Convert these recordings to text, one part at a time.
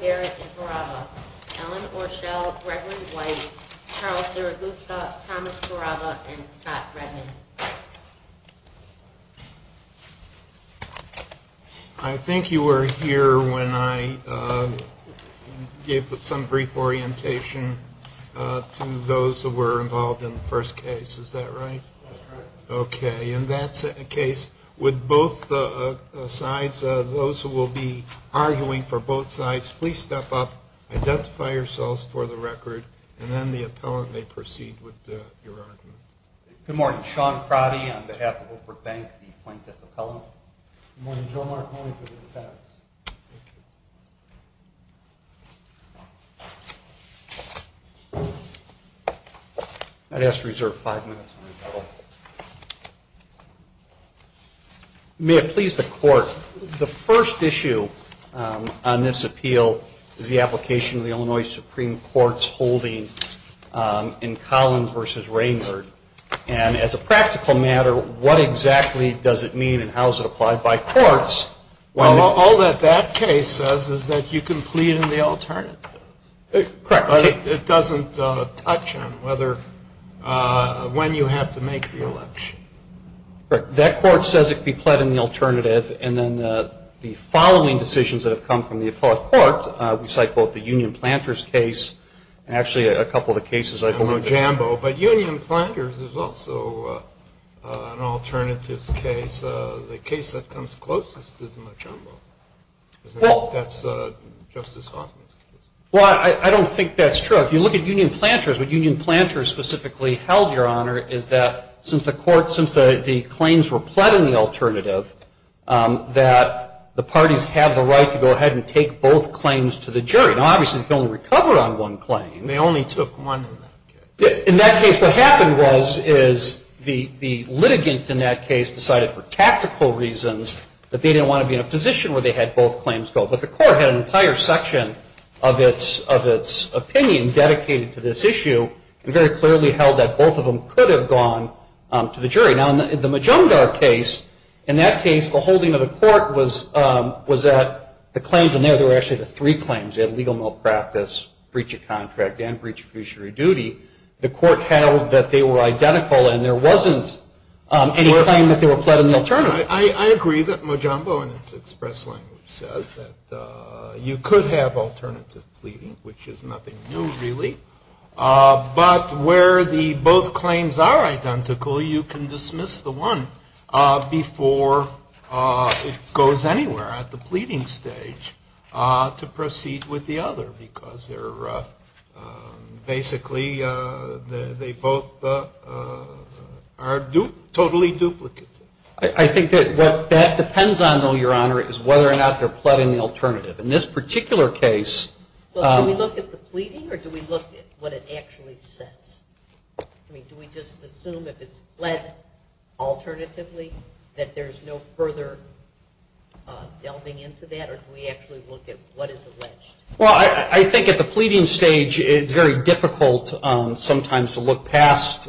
Garrison, Allen Orshell, Gregory White, Charles Durr, Luka, Thomas Baraba, and Scott Brennan. I think you were here when I gave some brief orientation to those who were involved in the first case, is that right? That's right. Okay, in that case, would both sides, those who will be arguing for both sides, please step up, identify yourselves for the record, and then the appellant may proceed with your argument. Good morning, Sean Crowley on behalf of Oak Brook Bank, the plaintiff's appellant. Good morning, Bill Markman on behalf of the defendant. I'd ask to reserve five minutes. May it please the court, the first issue on this appeal is the application of the Illinois Supreme Court's holding in Collins v. Raynard, and as a practical matter, what exactly does it mean and how is it applied by courts? Well, all that that case says is that you can plead in the alternative. Correct. It doesn't touch on whether, when you have to make the election. Correct. That court says it can plead in the alternative, and then the following decisions that have come from the appellate court, which I quote, the Union Planters case, and actually a couple of the cases I quote. Jumbo, but Union Planters is also an alternative case. The case that comes closest is Jumbo. Well. That's Justice Hoffman's case. Well, I don't think that's true. If you look at Union Planters, what Union Planters specifically held, Your Honor, is that since the claims were plead in the alternative, that the parties have the right to go ahead and take both claims to the jury. Now, obviously, you can only recover on one claim. They only took one. In that case, what happened was the litigants in that case decided for tactical reasons that they didn't want to be in a position where they had both claims. But the court had an entire section of its opinion dedicated to this issue. It very clearly held that both of them could have gone to the jury. Now, in the Majumdar case, in that case, the holding of the court was that the claims in there were actually the three claims, illegal malpractice, breach of contract, and breach of fiduciary duty. The court held that they were identical, and there wasn't any claim that they were plead in the alternative. I agree that Majumdar, in its express language, said that you could have alternative pleading, which is nothing new, really. But where both claims are identical, you can dismiss the one before it goes anywhere at the pleading stage to proceed with the other, because basically they both are totally duplicates. I think that what that depends on, though, Your Honor, is whether or not they're pled in the alternative. In this particular case... Do we look at the pleading, or do we look at what it actually says? I mean, do we just assume if it's pled alternatively that there's no further delving into that, or do we actually look at what is alleged? Well, I think at the pleading stage it's very difficult sometimes to look past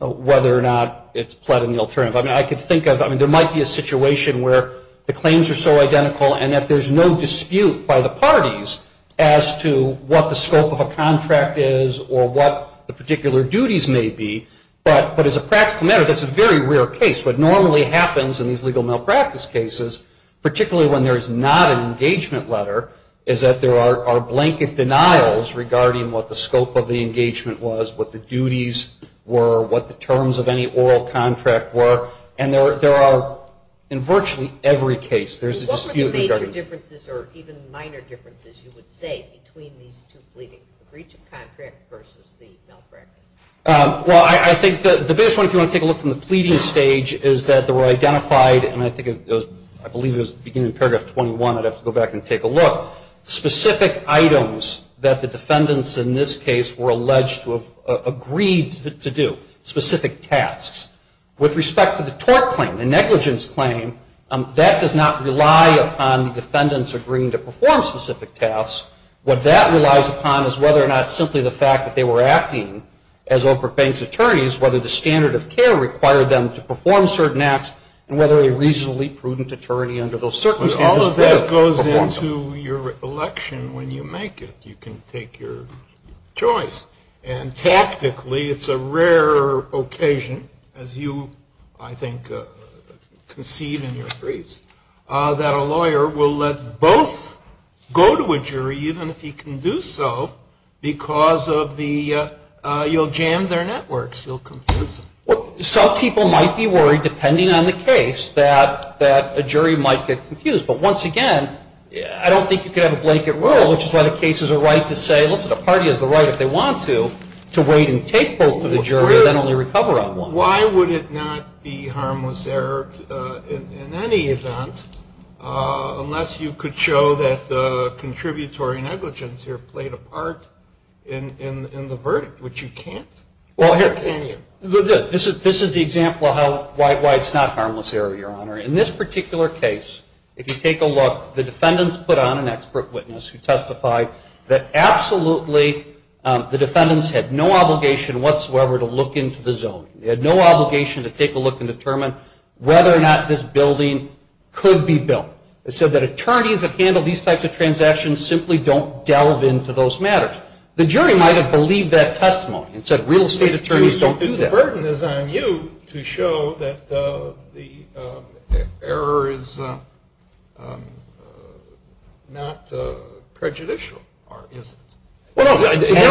whether or not it's pled in the alternative. I mean, I could think of, I mean, there might be a situation where the claims are so identical and that there's no dispute by the parties as to what the scope of a contract is or what the particular duties may be. But as a practical matter, that's a very rare case. What normally happens in these legal malpractice cases, particularly when there's not an engagement letter, is that there are blanket denials regarding what the scope of the engagement was, what the duties were, what the terms of any oral contract were, and there are, in virtually every case, there's a dispute. What were the major differences or even minor differences you would say between the two pleadings, the breach of contract versus the malpractice? Well, I think the biggest one, if you want to take a look from the pleading stage, is that there were identified, and I think it goes, I believe it was beginning of paragraph 21, I'd have to go back and take a look, specific items that the defendants in this case were alleged to have agreed to do, specific tasks. With respect to the tort claim, the negligence claim, that does not rely upon the defendants agreeing to perform specific tasks. What that relies upon is whether or not simply the fact that they were acting as open-faced attorneys, whether the standard of care required them to perform certain acts, and whether a reasonably prudent attorney under those circumstances did perform. All of that goes into your election when you make it. You can make your choice. And tactically, it's a rare occasion, as you, I think, concede in your case, that a lawyer will let both go to a jury, even if he can do so, because you'll jam their networks. You'll confuse them. Well, some people might be worried, depending on the case, that a jury might get confused. But once again, I don't think you can have a blanket rule, which is why the case has a right to say, look, the party has the right, if they want to, to wait and take both to the jury and then only recover on one. Well, why would it not be harmless error in any event, unless you could show that the contributory negligence here played a part in the verdict, which you can't? This is the example of why it's not harmless error, Your Honor. In this particular case, if you take a look, the defendants put on an expert witness who testified that, absolutely, the defendants had no obligation whatsoever to look into the zone. They had no obligation to take a look and determine whether or not this building could be built. They said that attorneys that handle these types of transactions simply don't delve into those matters. The jury might have believed that testimony and said, real estate attorneys don't do that. That burden is on you to show that the error is not prejudicial. Well, here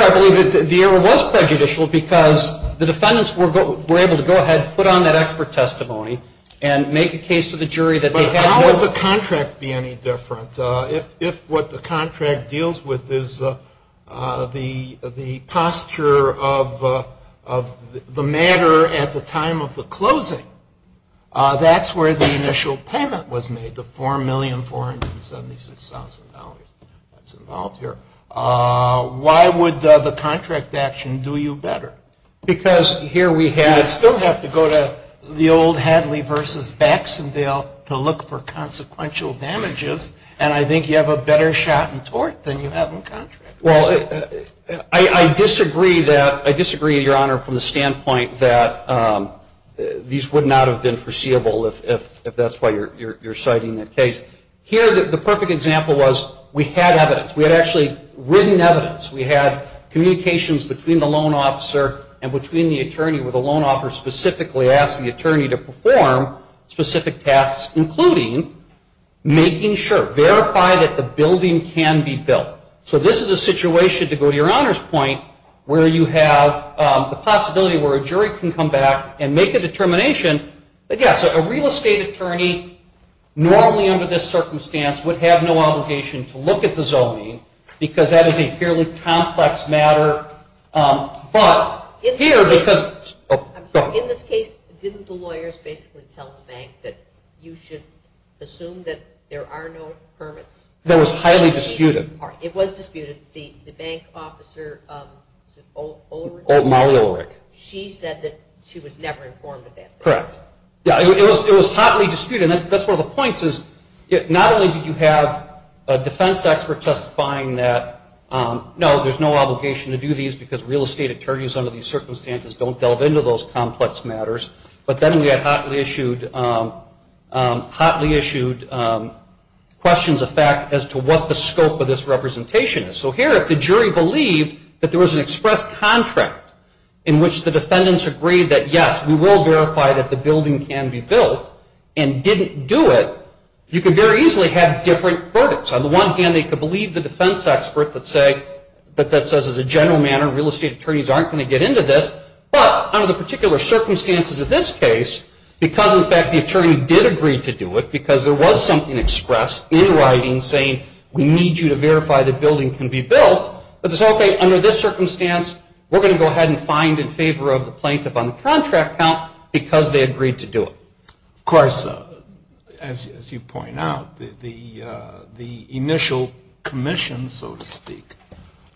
I believe that the error was prejudicial because the defendants were able to go ahead and put on that expert testimony and make a case to the jury that they had no obligation. But how would the contract be any different? If what the contract deals with is the posture of the matter at the time of the closing, that's where the initial payment was made, the $4,476,000. Why would the contract action do you better? Because here we still have to go to the old Hadley v. Baxendale to look for consequential damages, and I think you have a better shot in tort than you have in contract. Well, I disagree, Your Honor, from the standpoint that these would not have been foreseeable if that's why you're citing the case. Here, the perfect example was we had evidence. We had actually written evidence. We had communications between the loan officer and between the attorney, where the loan officer specifically asked the attorney to perform specific tasks, including making sure, verify that the building can be built. So this is a situation, to go to Your Honor's point, where you have the possibility where a jury can come back and make a determination that, yes, a real estate attorney normally under this circumstance would have no obligation to look at the zoning because that is a fairly complex matter. But here, because... In this case, didn't the lawyers basically tell the bank that you should assume that there are no permits? That was highly disputed. It was disputed. The bank officer, the old... Old Mario O'Rourke. She said that she was never informed of that. Correct. It was hotly disputed. And that's one of the points is not only did you have a defense expert testifying that, no, there's no obligation to do these because real estate attorneys under these circumstances don't delve into those complex matters, but then we had hotly issued questions of fact as to what the scope of this representation is. So here, the jury believed that there was an express contract in which the defendants agreed that, yes, we will verify that the building can be built and didn't do it. You could very easily have different verdicts. On the one hand, they could believe the defense expert that says as a general matter, real estate attorneys aren't going to get into this. But under the particular circumstances of this case, because, in fact, the attorney did agree to do it because there was something expressed in writing saying we need you to verify the building can be built, under this circumstance, we're going to go ahead and find in favor of the plaintiff on the contract count because they agreed to do it. Of course, as you point out, the initial commission, so to speak,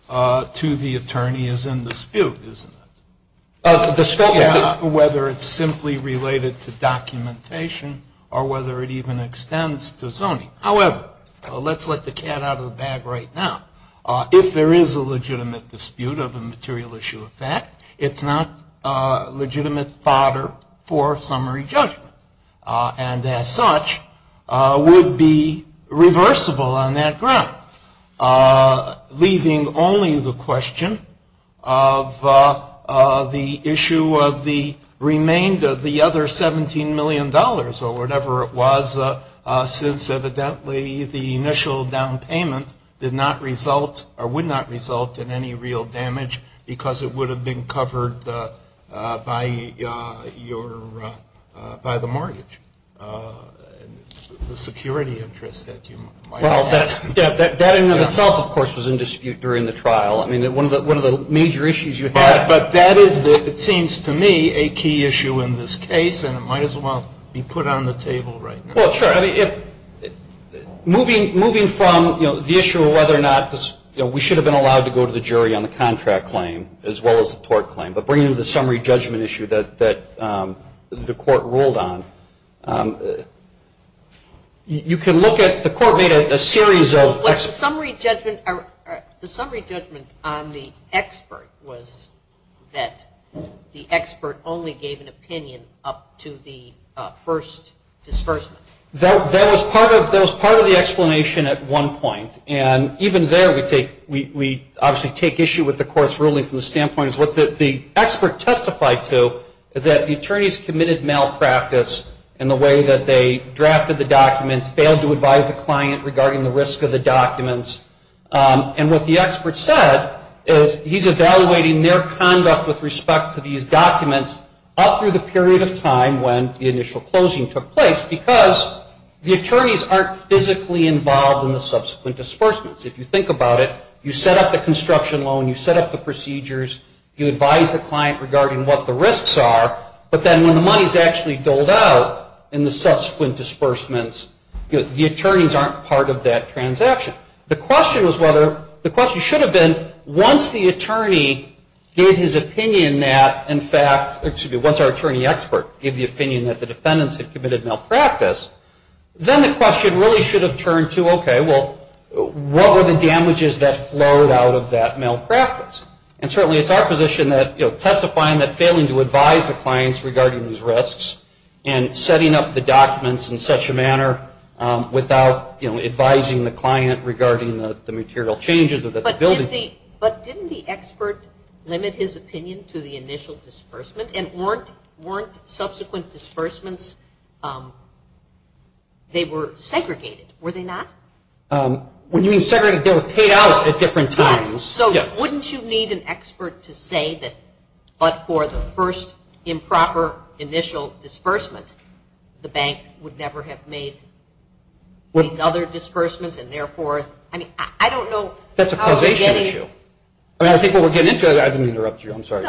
to the attorney is in dispute, isn't it? Whether it's simply related to documentation or whether it even extends to zoning. However, let's let the cat out of the bag right now. If there is a legitimate dispute of a material issue of fact, it's not legitimate fodder for summary judgment. And as such, would be reversible on that ground, leaving only the question of the issue of the remainder of the other $17 million or whatever it was since, evidently, the initial down payment did not result or would not result in any real damage because it would have been covered by the mortgage, the security interest that you might have. That in and of itself, of course, was in dispute during the trial. I mean, one of the major issues you had. It seems to me a key issue in this case and it might as well be put on the table right now. Sure. Moving from the issue of whether or not we should have been allowed to go to the jury on the contract claim as well as the tort claim, but bringing the summary judgment issue that the court ruled on, you can look at the court made a series of... The summary judgment on the expert was that the expert only gave an opinion up to the first disbursement. That was part of the explanation at one point. And even there, we obviously take issue with the court's ruling from the standpoint is what the expert testified to is that the attorneys committed malpractice in the way that they drafted the documents, failed to advise the client regarding the risk of the documents. And what the expert said is he's evaluating their conduct with respect to these documents all through the period of time when the initial closing took place because the attorneys aren't physically involved in the subsequent disbursements. If you think about it, you set up the construction loan, you set up the procedures, you advise the client regarding what the risks are, but then when the money's actually doled out in the subsequent disbursements, the attorneys aren't part of that transaction. The question should have been once the attorney gave his opinion that, in fact... Once our attorney expert gave the opinion that the defendants had committed malpractice, then the question really should have turned to, okay, well, what were the damages that flowed out of that malpractice? And certainly it's our position that testifying that failing to advise the clients regarding these risks and setting up the documents in such a manner without advising the client regarding the material changes... But didn't the expert limit his opinion to the initial disbursement and weren't subsequent disbursements... They were segregated, were they not? When you mean segregated, they were paid out at different times. So wouldn't you need an expert to say that but for the first improper initial disbursement, the bank would never have made these other disbursements and therefore... I mean, I don't know... That's a causation issue. I think what we're getting into... I didn't interrupt you. I'm sorry.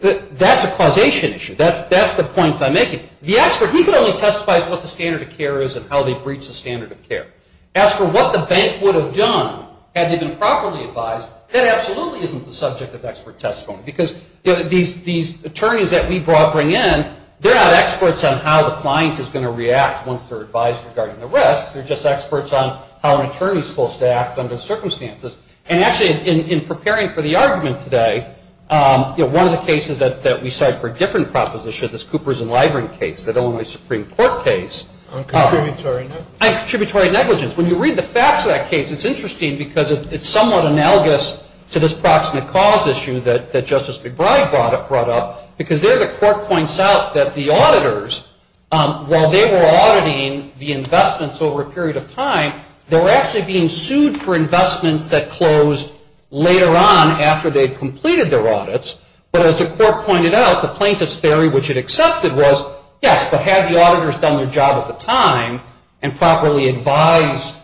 That's a causation issue. That's the point I'm making. The expert, he can only testify to what the standard of care is and how they breach the standard of care. As for what the bank would have done had they been properly advised, that absolutely isn't the subject of expert testimony because these attorneys that we brought in, they're not experts on how the client is going to react once they're advised regarding the risk. They're just experts on how an attorney is supposed to act under the circumstances. And actually, in preparing for the argument today, one of the cases that we cite for different propositions is Cooper's and Libren case, the Illinois Supreme Court case. On contributory negligence. On contributory negligence. When you read the facts of that case, it's interesting because it's somewhat analogous to this proximate cause issue that Justice McBride brought up because there the court points out that the auditors, while they were auditing the investments over a period of time, they were actually being sued for investments that closed later on after they completed their audits. But as the court pointed out, the plaintiff's theory, which it accepted, was, yes, but had the auditors done their job at the time and properly advised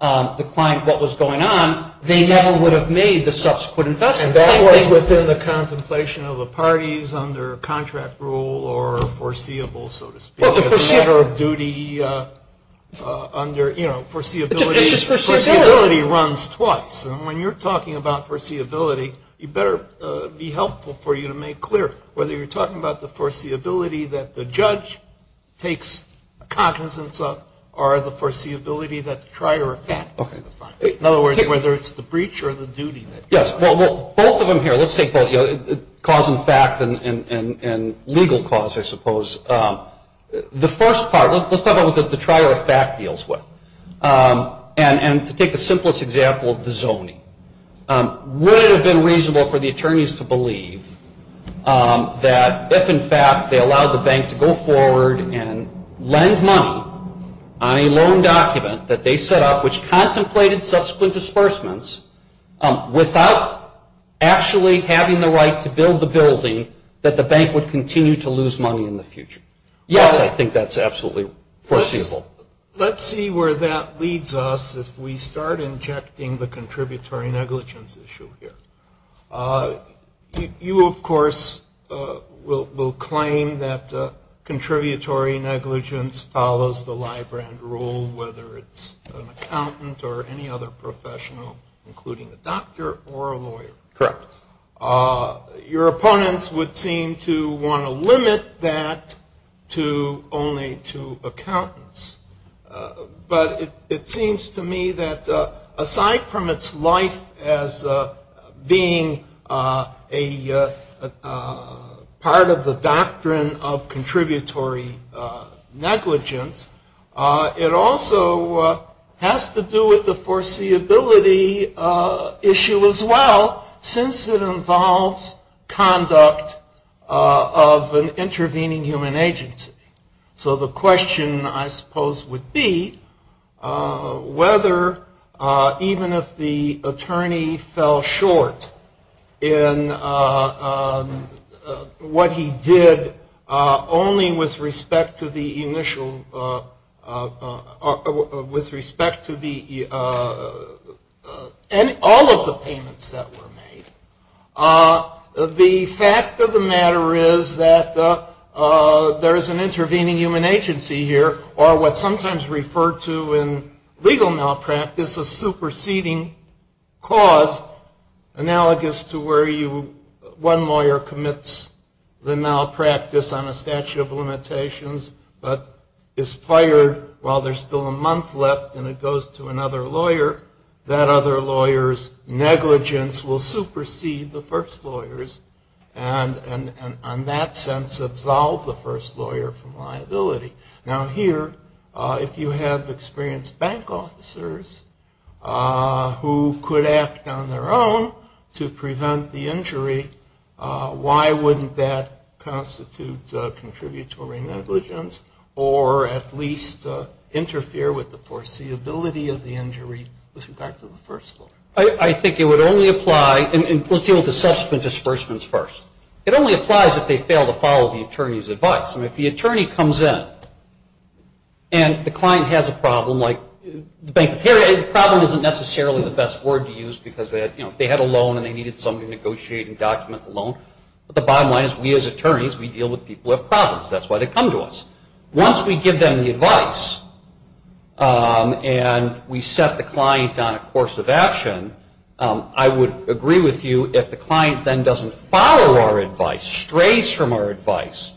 the client what was going on, they never would have made the subsequent investment. And that would have been the contemplation of the parties under contract rule or foreseeable, so to speak. It's a matter of duty under, you know, foreseeability runs twice. And when you're talking about foreseeability, it better be helpful for you to make clear whether you're talking about the foreseeability that the judge takes a cognizance of or the foreseeability that the trier of facts. In other words, whether it's the breach or the duty. Yes. Well, both of them here, let's take both cause and fact and legal cause, I suppose. The first part, let's talk about what the trier of fact deals with. And to take the simplest example, the zoning. Would it have been reasonable for the attorneys to believe that if, in fact, they allowed the bank to go forward and lend money on a loan document that they set up, which contemplated subsequent disbursements, without actually having the right to build the building, that the bank would continue to lose money in the future? Yes, I think that's absolutely foreseeable. Let's see where that leads us if we start injecting the contributory negligence issue here. You, of course, will claim that the contributory negligence follows the live grant rule, whether it's an accountant or any other professional, including a doctor or a lawyer. Correct. Your opponents would seem to want to limit that to only to accountants. But it seems to me that aside from its life as being a part of the doctrine of contributory negligence, it also has to do with the foreseeability issue as well, since it involves conduct of an intervening human agency. So the question, I suppose, would be whether, even if the attorney fell short in what he did, only with respect to all of the payments that were made, the fact of the matter is that there is an intervening human agency here, or what's sometimes referred to in legal malpractice as superseding cause, analogous to where one lawyer commits the malpractice on a statute of limitations but is fired while there's still a month left and it goes to another lawyer. That other lawyer's negligence will supersede the first lawyer's and, in that sense, absolve the first lawyer from liability. Now here, if you have experienced bank officers who could act on their own to prevent the injury, why wouldn't that constitute contributory negligence or at least interfere with the foreseeability of the injury with respect to the first lawyer? I think it would only apply, and we'll deal with the subsequent disbursements first. It only applies if they fail to follow the attorney's advice. If the attorney comes in and the client has a problem, like the problem isn't necessarily the best word to use because they had a loan and they needed somebody to negotiate and document the loan, but the bottom line is we, as attorneys, we deal with people who have problems. That's why they come to us. Once we give them the advice and we set the client on a course of action, I would agree with you if the client then doesn't follow our advice, strays from our advice,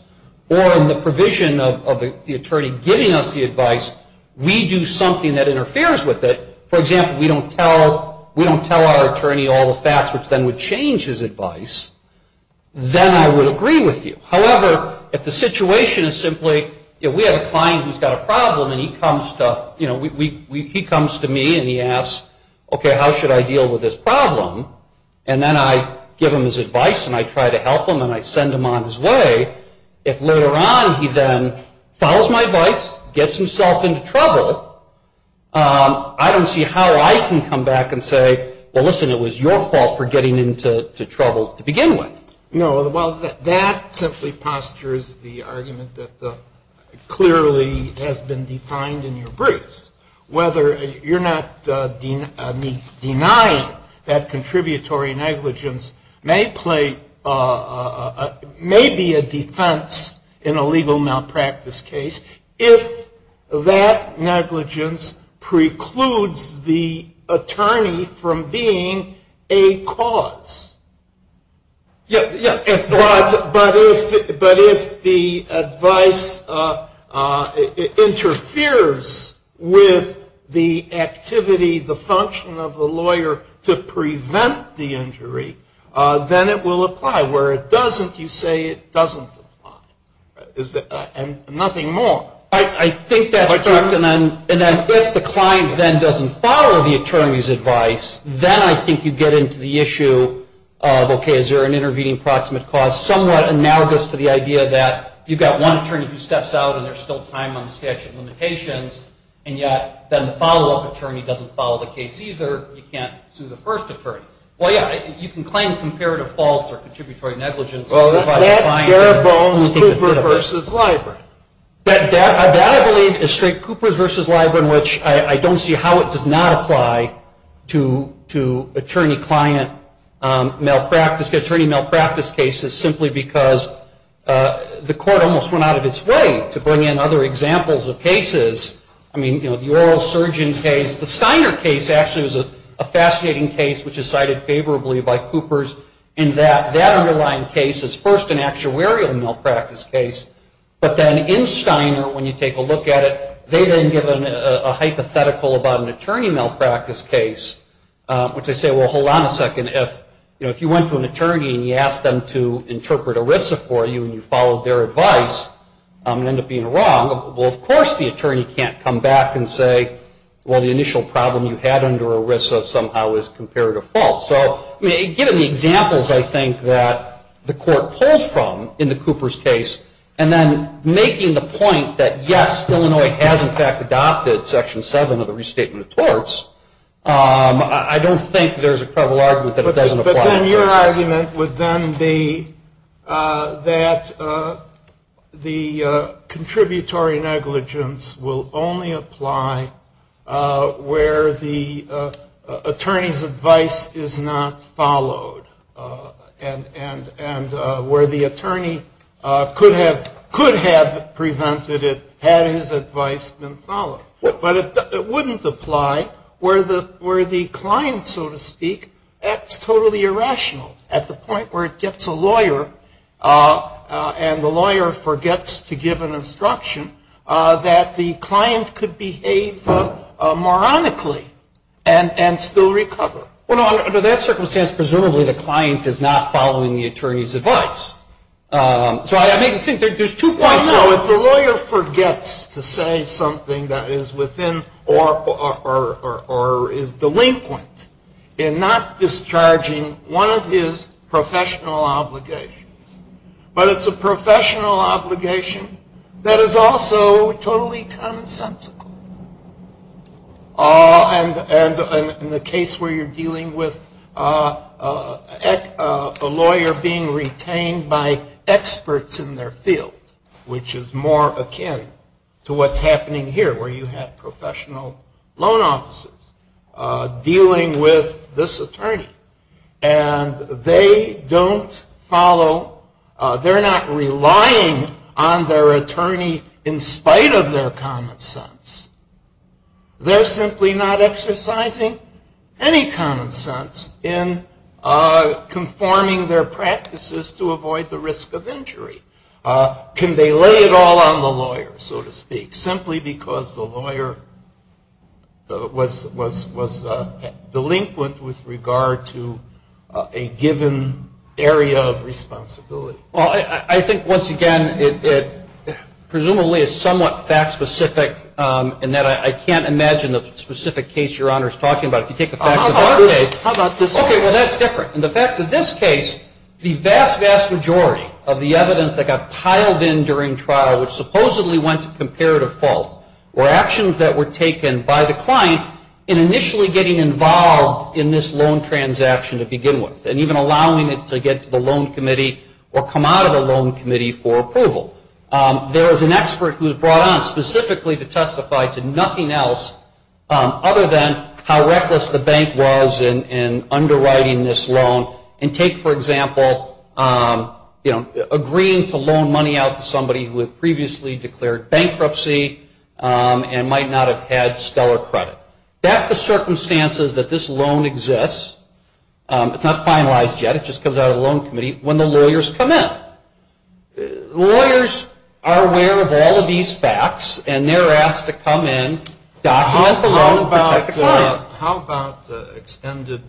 or in the provision of the attorney giving us the advice, we do something that interferes with it. For example, we don't tell our attorney all the facts, which then would change his advice. Then I would agree with you. However, if the situation is simply we have a client who's got a problem and he comes to me and he asks, okay, how should I deal with this problem? And then I give him his advice and I try to help him and I send him on his way. If later on he then follows my advice, gets himself into trouble, I don't see how I can come back and say, well, listen, it was your fault for getting into trouble to begin with. No, that essentially postures the argument that clearly has been defined in your briefs. You're not denying that contributory negligence may be a defense in a legal malpractice case if that negligence precludes the attorney from being a cause. Yes. But if the advice interferes with the activity, the function of the lawyer to prevent the injury, then it will apply. Where it doesn't, you say it doesn't apply. And nothing more. I think that's correct. And if the client then doesn't follow the attorney's advice, then I think you get into the issue of, okay, is there an intervening proximate cause, somewhat analogous to the idea that you've got one attorney who steps out and there's still time on the statute of limitations, and yet then the follow-up attorney doesn't follow the case either, but you can't sue the first attorney. Well, yeah, you can claim comparative faults or contributory negligence. Well, that's Garibaldi's Cooper v. Library. That, I believe, is straight Cooper v. Library, in which I don't see how it does not apply to attorney-client malpractice, attorney malpractice cases, simply because the court almost went out of its way to bring in other examples of cases. I mean, the oral surgeon case, the Steiner case actually was a fascinating case, which is cited favorably by Coopers in that that underlying case is first an actuarial malpractice case, but then in Steiner, when you take a look at it, they then give a hypothetical about an attorney malpractice case, which I say, well, hold on a second. If you went to an attorney and you asked them to interpret ERISA for you and you followed their advice and end up being wrong, well, of course the attorney can't come back and say, well, the initial problem you had under ERISA somehow is comparative fault. So, giving the examples, I think, that the court pulls from in the Coopers case and then making the point that yes, Illinois has in fact adopted Section 7 of the Restatement of Torts, I don't think there's a probable argument that it doesn't apply. But then your argument would then be that the contributory negligence will only apply where the attorney's advice is not followed and where the attorney could have presented it had his advice been followed. But it wouldn't apply where the client, so to speak, acts totally irrational at the point where it gets a lawyer and the lawyer forgets to give an instruction that the client could behave moronically and still recover. Well, under that circumstance, presumably the client is not following the attorney's advice. So, I think there's two points there. One, the lawyer forgets to say something that is within or is delinquent in not discharging one of his professional obligations. But it's a professional obligation that is also totally consensual. And in the case where you're dealing with a lawyer being retained by experts in their field, which is more akin to what's happening here where you have professional loan offices dealing with this attorney, and they don't follow, they're not relying on their attorney in spite of their common sense. They're simply not exercising any common sense in conforming their practices to avoid the risk of injury. Can they lay it all on the lawyer, so to speak, simply because the lawyer was delinquent with regard to a given area of responsibility? Well, I think, once again, it presumably is somewhat fact-specific in that I can't imagine the specific case Your Honor is talking about. If you take the facts of that case. How about this one? Okay, well, that's different. In the fact that this case, the vast, vast majority of the evidence that got piled in during trial supposedly went to comparative fault or actions that were taken by the client in initially getting involved in this loan transaction to begin with and even allowing it to get to the loan committee or come out of the loan committee for approval. There was an expert who was brought on specifically to testify to nothing else other than how reckless the bank was in underwriting this loan and take, for example, agreeing to loan money out to somebody who had previously declared bankruptcy and might not have had stellar credit. That's the circumstances that this loan exists. It's not finalized yet. It just comes out of the loan committee when the lawyers come in. Lawyers are aware of all of these facts, and they're asked to come in, document the loan, How about the extended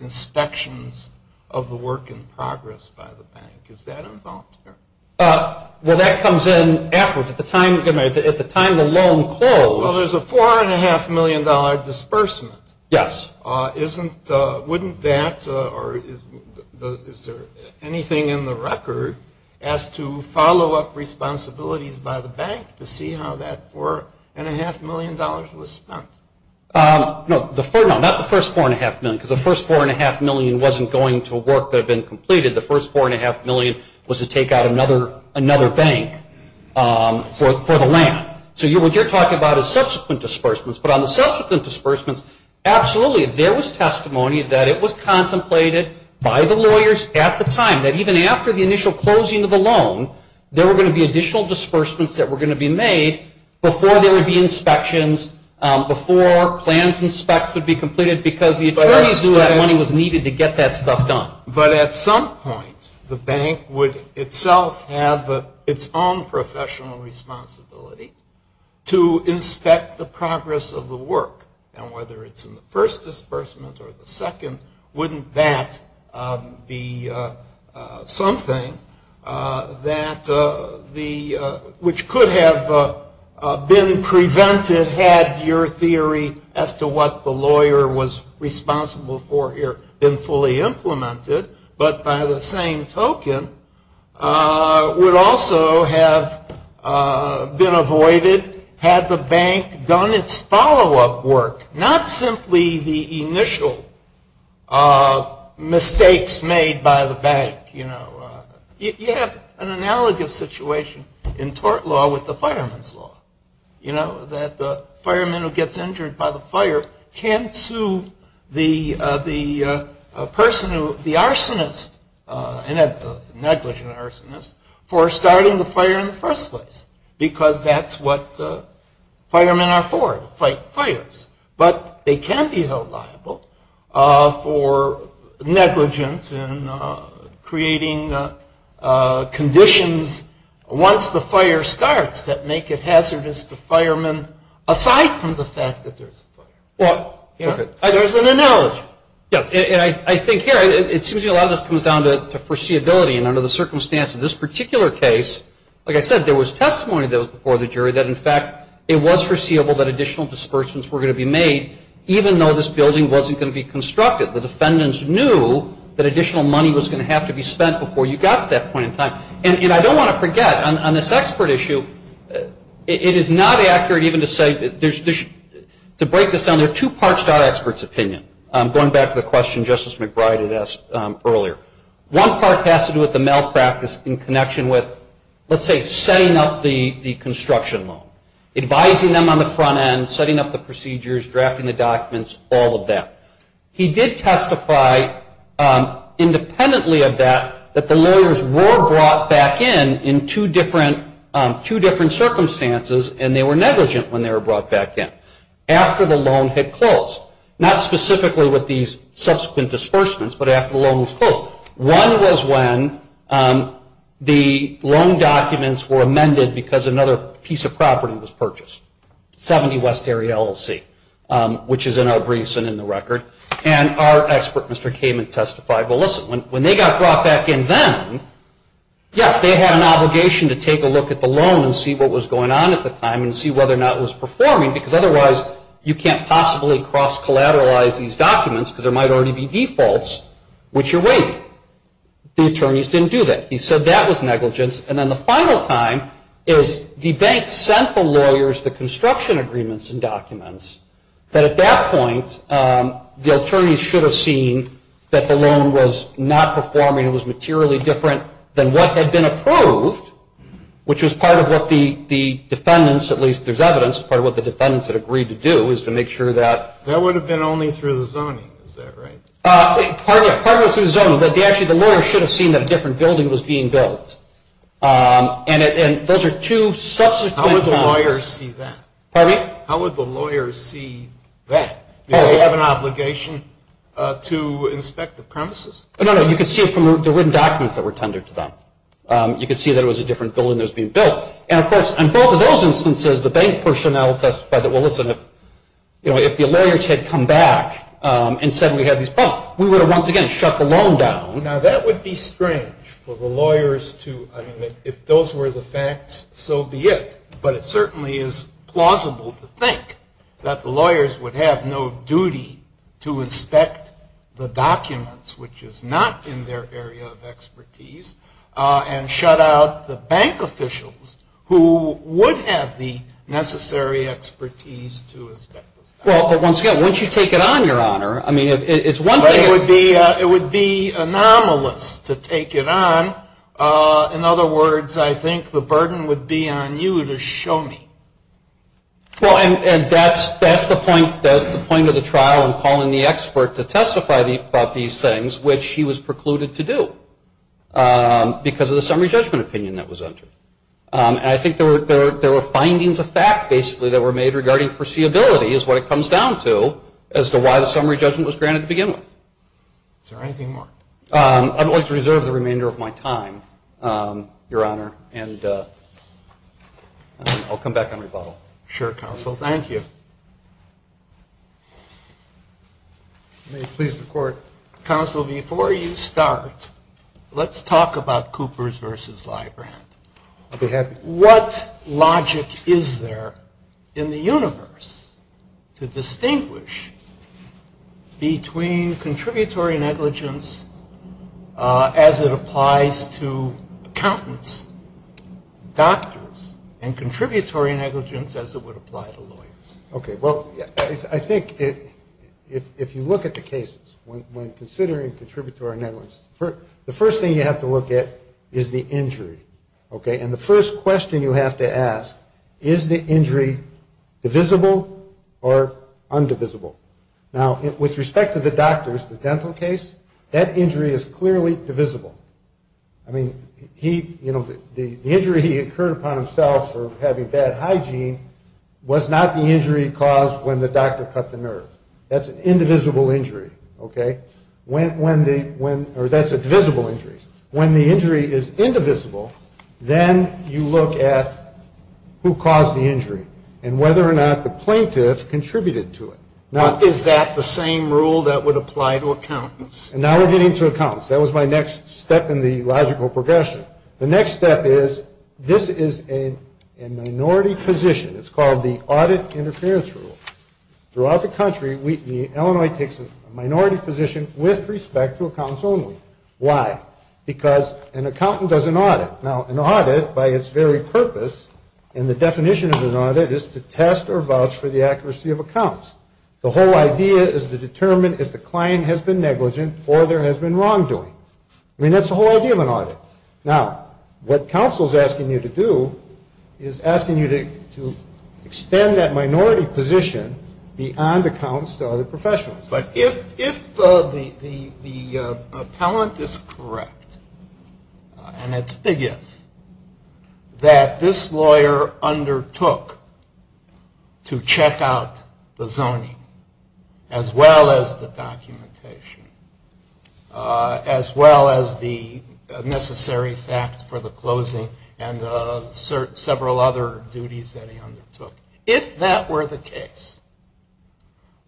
inspections of the work in progress by the bank? Is that involved here? Well, that comes in afterwards. At the time the loan closed. Well, there's a $4.5 million disbursement. Yes. Wouldn't that, or is there anything in the record as to follow-up responsibilities by the bank to see how that $4.5 million was spent? No, not the first $4.5 million, because the first $4.5 million wasn't going to work that had been completed. The first $4.5 million was to take out another bank for the land. So what you're talking about is subsequent disbursements, but on the subsequent disbursements, absolutely there was testimony that it was contemplated by the lawyers at the time, that even after the initial closing of the loan, there were going to be additional disbursements that were going to be made before there would be inspections, before plans and specs would be completed, because the attorneys knew that money was needed to get that stuff done. But at some point, the bank would itself have its own professional responsibility to inspect the progress of the work. And whether it's in the first disbursement or the second, wouldn't that be something which could have been prevented had your theory as to what the lawyer was responsible for here been fully implemented, but by the same token would also have been avoided had the bank done its follow-up work, not simply the initial mistakes made by the bank. You know, you have an analogous situation in tort law with the fireman's law. You know, that the fireman who gets injured by the fire can't sue the person who, the arsonist, and I'm not judging the arsonist, for starting the fire in the first place, because that's what the firemen are for, to fight fires. But they can be held liable for negligence in creating conditions once the fire starts that make it hazardous to firemen, aside from the fact that there's a fire. There's an analogy. I think here, it seems a lot of this comes down to foreseeability, and under the circumstance of this particular case, like I said, there was testimony before the jury that, in fact, it was foreseeable that additional dispersions were going to be made, even though this building wasn't going to be constructed. The defendants knew that additional money was going to have to be spent before you got to that point in time. And I don't want to forget, on this expert issue, it is not accurate even to say, to break this down, there are two parts to our expert's opinion, going back to the question Justice McBride had asked earlier. One part has to do with the malpractice in connection with, let's say, setting up the construction loan, advising them on the front end, setting up the procedures, drafting the documents, all of that. He did testify, independently of that, that the loaners were brought back in in two different circumstances, and they were negligent when they were brought back in, after the loan had closed. Not specifically with these subsequent disbursements, but after the loan was closed. One was when the loan documents were amended because another piece of property was purchased, 70 West Area LLC, which is in our briefs and in the record. And our expert, Mr. Kamen, testified, well, listen, when they got brought back in then, yes, they had an obligation to take a look at the loan and see what was going on at the time and see whether or not it was performing, because otherwise you can't possibly cross-collateralize these documents because there might already be defaults, which you're waiting. The attorneys didn't do that. He said that was negligence. And then the final time is the bank sent the lawyers the construction agreements and documents, but at that point the attorneys should have seen that the loan was not performing, it was materially different than what had been approved, which was part of what the defendants, at least there's evidence, part of what the defendants had agreed to do is to make sure that- That would have been only through the zoning, is that right? Part of it was through the zoning, but actually the lawyers should have seen that a different building was being built. And those are two subsequent- How would the lawyers see that? Pardon me? How would the lawyers see that? Do they have an obligation to inspect the premises? No, no, you could see it from the written documents that were tendered to them. You could see that it was a different building that was being built. And, of course, in both of those instances, the bank personnel testified that, well, listen, if the lawyers had come back and said we had these problems, we would have once again shut the loan down. Now, that would be strange for the lawyers to-I mean, if those were the facts, so be it. But it certainly is plausible to think that the lawyers would have no duty to inspect the documents, which is not in their area of expertise, and shut out the bank officials who would have the necessary expertise to inspect the site. Well, but once again, wouldn't you take it on, Your Honor? I mean, it's one thing- It would be anomalous to take it on. In other words, I think the burden would be on you to show me. Well, and that's the point of the trial in calling the expert to testify about these things, which he was precluded to do because of the summary judgment opinion that was entered. And I think there were findings of fact, basically, that were made regarding foreseeability is what it comes down to as to why the summary judgment was granted to begin with. Is there anything more? I'd like to reserve the remainder of my time, Your Honor. Thank you, Your Honor. And I'll come back and rebuttal. Sure, Counsel. Thank you. Please report. Counsel, before you start, let's talk about Cooper's versus Libra. I'd be happy to. And what logic is there in the universe to distinguish between contributory negligence as it applies to accountants, doctors, and contributory negligence as it would apply to lawyers? Okay, well, I think if you look at the cases, when considering contributory negligence, the first thing you have to look at is the injury. Okay? And the first question you have to ask, is the injury divisible or undivisible? Now, with respect to the doctor's, the Templin case, that injury is clearly divisible. I mean, the injury he incurred upon himself for having bad hygiene was not the injury caused when the doctor cut the nerve. That's an indivisible injury. Okay? Or that's a divisible injury. When the injury is indivisible, then you look at who caused the injury and whether or not the plaintiff contributed to it. Is that the same rule that would apply to accountants? And now we're getting to accountants. That was my next step in the logical progression. The next step is, this is a minority position. It's called the audit interference rule. Throughout the country, Illinois takes a minority position with respect to accountants only. Why? Because an accountant does an audit. Now, an audit, by its very purpose, and the definition of an audit, is to test or vouch for the accuracy of accounts. The whole idea is to determine if the client has been negligent or there has been wrongdoing. I mean, that's the whole idea of an audit. Now, what counsel is asking you to do is asking you to extend that minority position beyond accounts to other professionals. But if the accountant is correct, and it's biggest, that this lawyer undertook to check out the zoning, as well as the documentation, as well as the necessary facts for the closing, and several other duties that he undertook. If that were the case,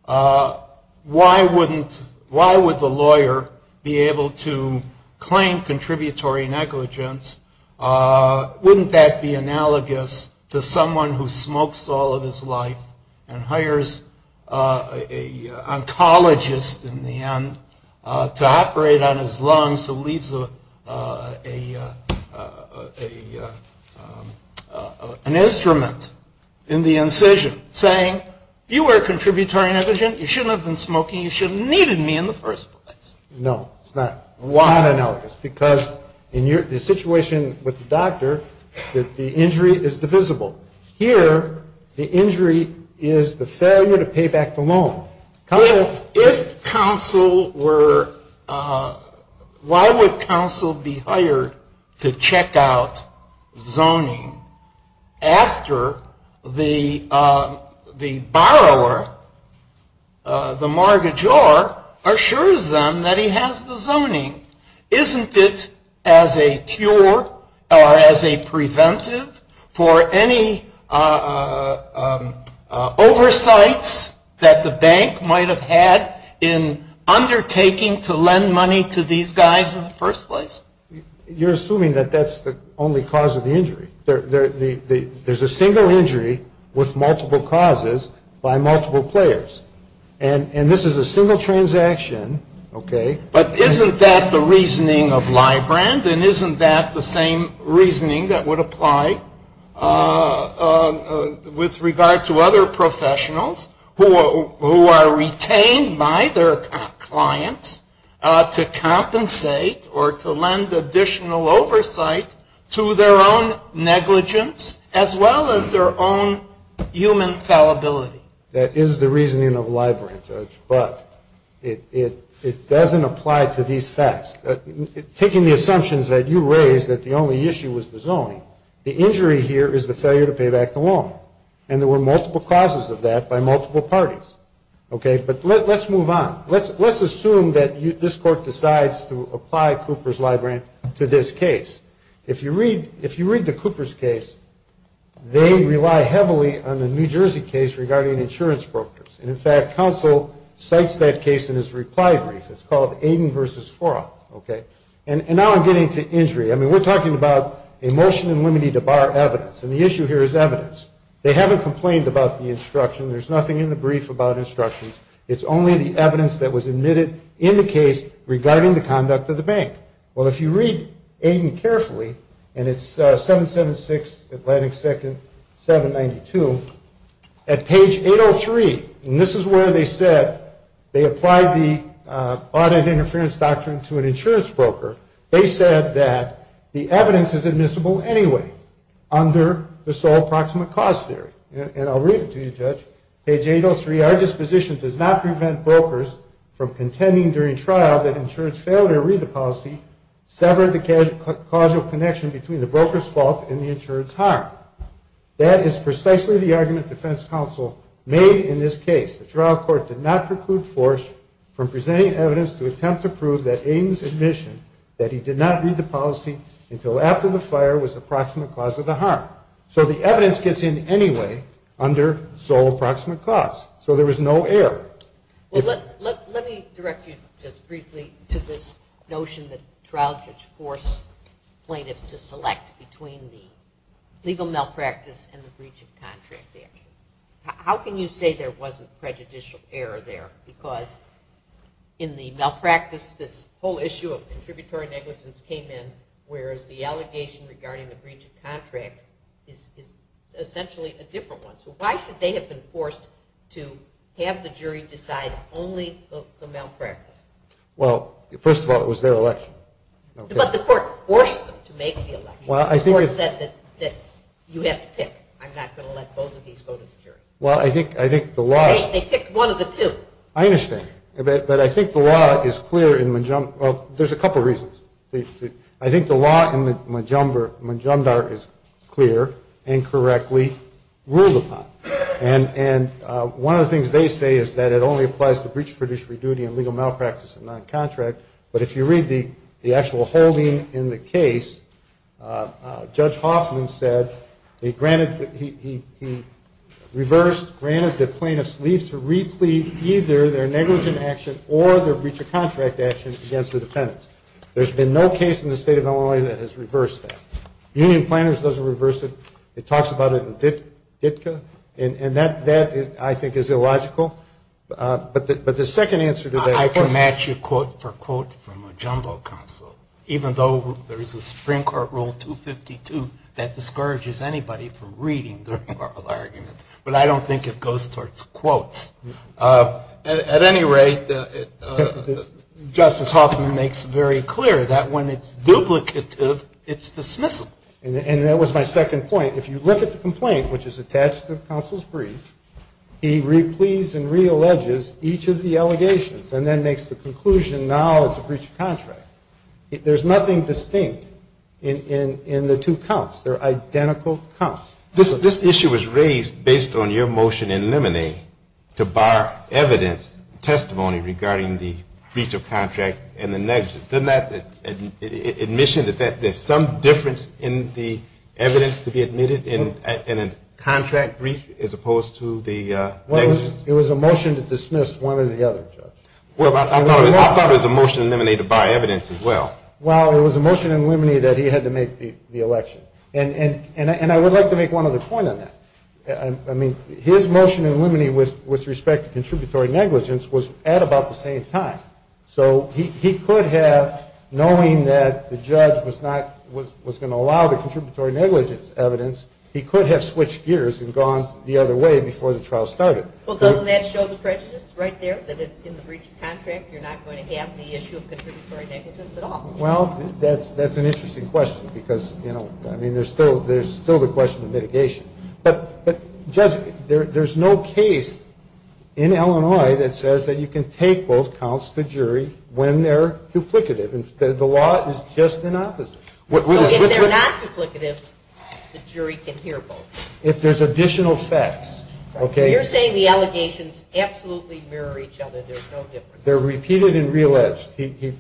why would the lawyer be able to claim contributory negligence? Wouldn't that be analogous to someone who smokes all of his life and hires an oncologist, in the end, to operate on his lungs to leave an instrument in the incision saying, you were a contributory negligent. You shouldn't have been smoking. You shouldn't have needed me in the first place. No. It's not analogous. Why not? Because in the situation with the doctor, the injury is divisible. Here, the injury is the failure to pay back the loan. If counsel were, why would counsel be hired to check out zoning after the borrower, the mortgagor, assures them that he has the zoning? Isn't it as a cure or as a preventive for any oversight that the bank might have had in undertaking to lend money to these guys in the first place? You're assuming that that's the only cause of the injury. There's a single injury with multiple causes by multiple players. And this is a single transaction. But isn't that the reasoning of Librand? And isn't that the same reasoning that would apply with regard to other professionals who are retained by their clients to compensate or to lend additional oversight to their own negligence as well as their own human fallibility? That is the reasoning of Librand, but it doesn't apply to these facts. Taking the assumptions that you raised that the only issue was the zoning, the injury here is the failure to pay back the loan. And there were multiple causes of that by multiple parties. But let's move on. Let's assume that this court decides to apply Cooper's Librand to this case. If you read the Cooper's case, they rely heavily on the New Jersey case regarding insurance brokers. And, in fact, counsel cites that case in his reply brief. It's called Aiden v. Fraun, okay? And now I'm getting to injury. I mean, we're talking about a motion unlimited to bar evidence. And the issue here is evidence. They haven't complained about the instruction. There's nothing in the brief about instructions. It's only the evidence that was admitted in the case regarding the conduct of the bank. Well, if you read Aiden carefully, and it's 776 Atlantic 2nd, 792. At page 803, and this is where they said they applied the bond interference doctrine to an insurance broker, they said that the evidence is admissible anyway under the sole proximate cause theory. And I'll read it to you, Judge. Page 803, our disposition does not prevent brokers from contending during trial that insurance failure to read the policy severed the causal connection between the broker's fault and the insurer's harm. That is precisely the argument defense counsel made in this case. The trial court did not preclude Fraun from presenting evidence to attempt to prove that Aiden's admission that he did not read the policy until after the fire was the proximate cause of the harm. So the evidence gets in anyway under sole proximate cause. So there was no error. Let me direct you just briefly to this notion that trial courts force plaintiffs to select between the legal malpractice and the breach of contract error. How can you say there wasn't prejudicial error there? Because in the malpractice, this whole issue of contributory negligence came in, whereas the allegation regarding the breach of contract is essentially a different one. So why should they have been forced to have the jury decide only the malpractice? Well, first of all, it was their election. But the court forced them to make the election. The court said that you have to pick. I'm not going to let both of these go to the jury. Well, I think the law – They picked one of the two. I understand. But I think the law is clear in – well, there's a couple reasons. I think the law in Majumdar is clear and correctly ruled upon. And one of the things they say is that it only applies to breach of fiduciary duty and legal malpractice in non-contract. But if you read the actual holding in the case, Judge Hoffman said he granted the plaintiffs' lease to re-plead either their negligent action or their breach of contract action against the defendants. There's been no case in the state of Illinois that has reversed that. The union plaintiffs doesn't reverse it. It talks about it in DITCA. And that, I think, is illogical. But the second answer to that – I can match your quote for quote from a jungle council, even though there is a Supreme Court Rule 252 that discourages anybody from reading the argument. But I don't think it goes towards quotes. At any rate, Justice Hoffman makes very clear that when it's duplicative, it's dismissive. And that was my second point. If you look at the complaint, which is attached to the counsel's brief, he re-pleads and re-alleges each of the allegations and then makes the conclusion now it's a breach of contract. There's nothing distinct in the two counts. They're identical counts. This issue was raised based on your motion in Limine to bar evidence, testimony, regarding the breach of contract and the negligence. Doesn't that admission that there's some difference in the evidence to be admitted in a contract breach as opposed to the negligence? It was a motion to dismiss one or the other, Judge. Well, I thought it was a motion in Limine to bar evidence as well. Well, it was a motion in Limine that he had to make the election. And I would like to make one other point on that. I mean, his motion in Limine with respect to contributory negligence was at about the same time. So he could have, knowing that the judge was going to allow the contributory negligence evidence, he could have switched gears and gone the other way before the trial started. Well, doesn't that show the prejudice right there that if it's in the breach of contract, you're not going to have the issue of contributory negligence at all? Well, that's an interesting question because, you know, I mean, there's still the question of mitigation. But, Judge, there's no case in Illinois that says that you can take both counts to jury when they're duplicative. The law is just the opposite. So if they're not duplicative, the jury can hear both? If there's additional facts. So you're saying the allegations absolutely mirror each other, there's no difference? They're repeated and re-alleged. And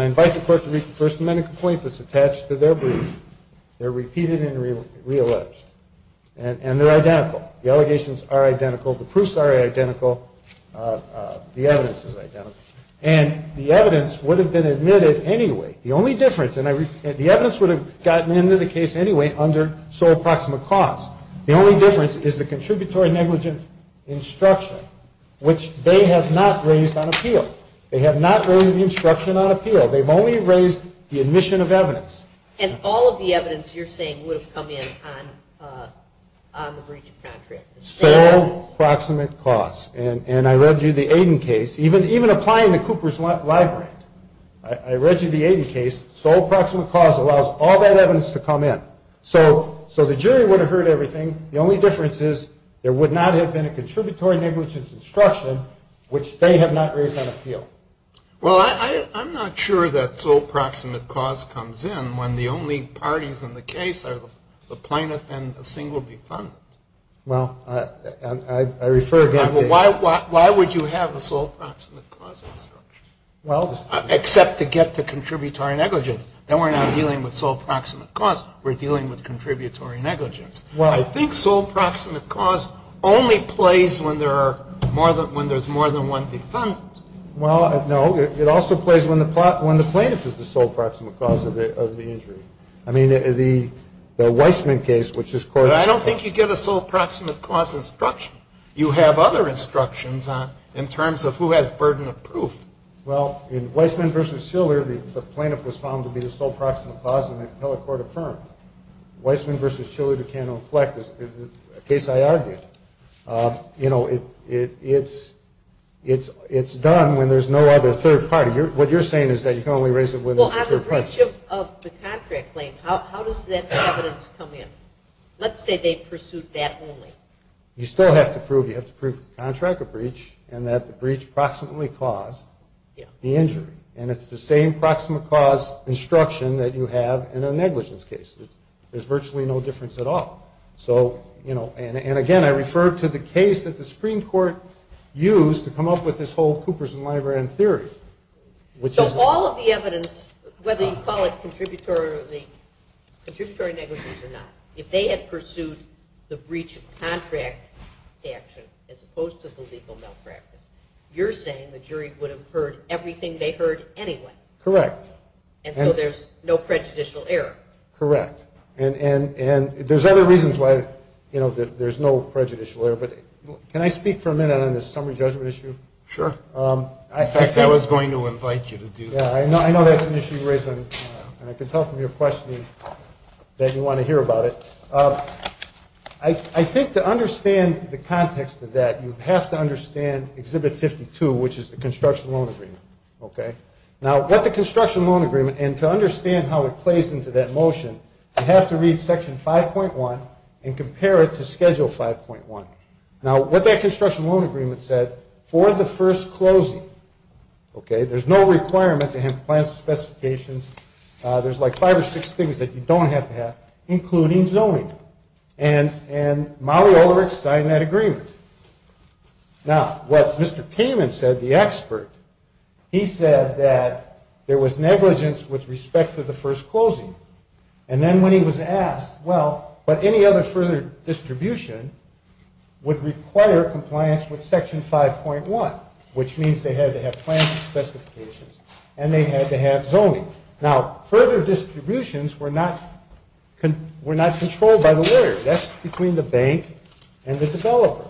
I invite the court to read the First Amendment complaint that's attached to their brief. They're repeated and re-alleged. And they're identical. The allegations are identical. The proofs are identical. The evidence is identical. And the evidence would have been admitted anyway. The only difference, and the evidence would have gotten into the case anyway under sole proximate cause. The only difference is the contributory negligence instruction, which they have not raised on appeal. They have not raised the instruction on appeal. They've only raised the admission of evidence. And all of the evidence you're saying would have come in on the breach of contract? Sole proximate cause. And I read you the Aiden case. Even applying to Cooper's Library. I read you the Aiden case. Sole proximate cause allows all that evidence to come in. So the jury would have heard everything. The only difference is there would not have been a contributory negligence instruction, which they have not raised on appeal. Well, I'm not sure that sole proximate cause comes in when the only parties in the case are the plaintiff and a single defendant. Well, I refer again to the case. Why would you have a sole proximate cause instruction? Well, except to get to contributory negligence. Then we're not dealing with sole proximate cause. We're dealing with contributory negligence. Well, I think sole proximate cause only plays when there's more than one defendant. Well, no. It also plays when the plaintiff is the sole proximate cause of the injury. I mean, the Weissman case, which is court- But I don't think you get a sole proximate cause instruction. You have other instructions in terms of who has burden of proof. Well, in Weissman v. Schiller, the plaintiff was found to be the sole proximate cause, and the appellate court affirmed. Weissman v. Schiller became inflected. It's a case I argued. You know, it's done when there's no other third party. What you're saying is that you can only raise it when there's a third party. Well, on the breach of the contract claim, how does that evidence come in? Let's say they pursued that only. You still have to prove you have to prove the contract of breach and that the breach proximately caused the injury. And it's the same proximate cause instruction that you have in a negligence case. There's virtually no difference at all. So, you know, and again, I refer to the case that the Supreme Court used to come up with this whole Cooperson-Lybrand theory. So all of the evidence, whether you call it contributory negligence or not, if they had pursued the breach of contract statute as opposed to the legal malpractice, you're saying the jury would have heard everything they heard anyway. Correct. And so there's no prejudicial error. Correct. And there's other reasons why, you know, there's no prejudicial error, but can I speak for a minute on the summary judgment issue? Sure. In fact, I was going to invite you to do that. Yeah, I know that's an issue you raise, and I can tell from your question that you want to hear about it. I think to understand the context of that, you have to understand Exhibit 52, which is the construction loan agreement. Okay? Now, what the construction loan agreement, and to understand how it plays into that motion, I have to read Section 5.1 and compare it to Schedule 5.1. Now, what that construction loan agreement said, for the first closing, okay, there's no requirement to have compliance specifications. There's like five or six things that you don't have to have, including zoning. And Maui Olerich signed that agreement. Now, what Mr. Kamin said, the expert, he said that there was negligence with respect to the first closing. And then when he was asked, well, but any other further distribution would require compliance with Section 5.1, which means they had to have compliance specifications, and they had to have zoning. Now, further distributions were not controlled by the lawyers. That's between the bank and the developer.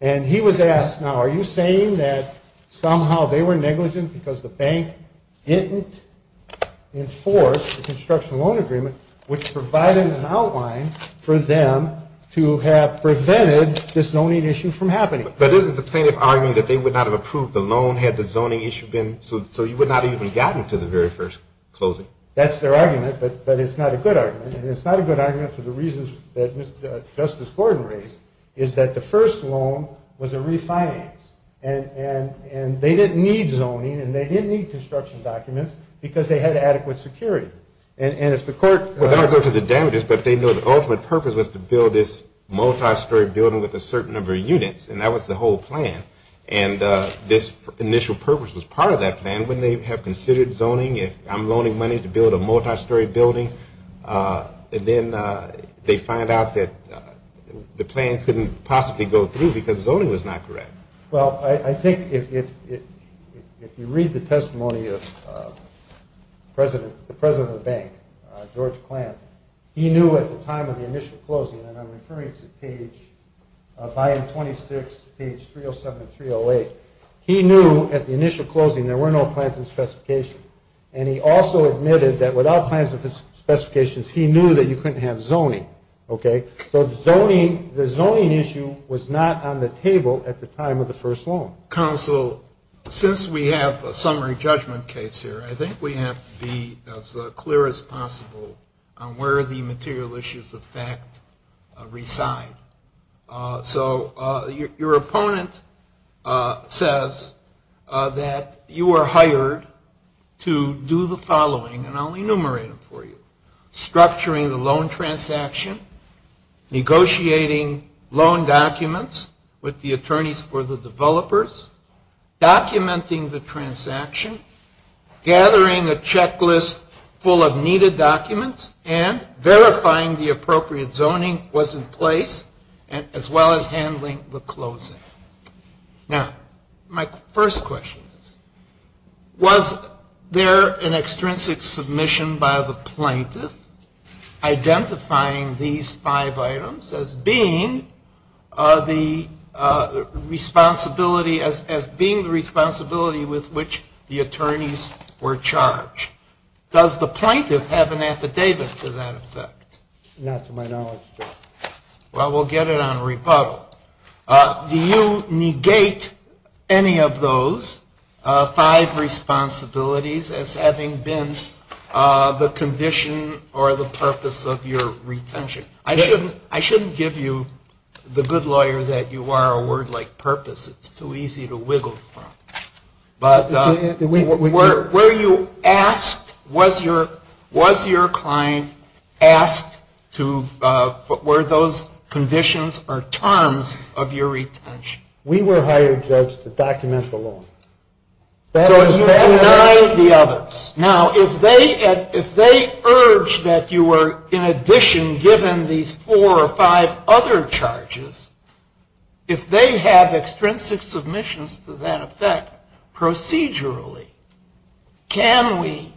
And he was asked, now, are you saying that somehow they were negligent because the bank didn't enforce the construction loan agreement, which provided an outline for them to have prevented this zoning issue from happening? But isn't the plaintiff arguing that they would not have approved the loan had the zoning issue been, so you would not have even gotten to the very first closing? That's their argument, but it's not a good argument. And it's not a good argument for the reasons that Justice Gordon raised, is that the first loan was a refinance. And they didn't need zoning, and they didn't need construction documents, because they had adequate security. And if the court… I'm going to go to the damages, but they know the ultimate purpose was to build this multi-story building with a certain number of units, and that was the whole plan. And this initial purpose was part of that plan. When they have considered zoning, if I'm loaning money to build a multi-story building, and then they find out that the plan couldn't possibly go through because zoning was not correct. Well, I think if you read the testimony of the president of the bank, George Clanton, he knew at the time of the initial closing, and I'm referring to page… Byron 26, page 307 and 308. He knew at the initial closing there were no plaintiff's specifications. And he also admitted that without plaintiff's specifications, he knew that you couldn't have zoning. So the zoning issue was not on the table at the time of the first loan. Counsel, since we have a summary judgment case here, I think we have to be as clear as possible on where the material issues of fact reside. So your opponent says that you were hired to do the following, and I'll enumerate it for you. Structuring the loan transaction. Negotiating loan documents with the attorneys for the developers. Documenting the transaction. Gathering a checklist full of needed documents. And verifying the appropriate zoning was in place, as well as handling the closing. Now, my first question is, was there an extrinsic submission by the plaintiff identifying these five items as being the responsibility with which the attorneys were charged? Does the plaintiff have an affidavit to that effect? Not to my knowledge, no. Well, we'll get it on rebuttal. Do you negate any of those five responsibilities as having been the condition or the purpose of your retention? I shouldn't give you the good lawyer that you are a word like purpose. It's too easy to wiggle from. But were you asked, was your client asked, were those conditions or terms of your retention? We were hired, Judge, to document the loan. So you denied the others. Now, if they urged that you were, in addition, given these four or five other charges, if they have extrinsic submissions to that effect procedurally, can we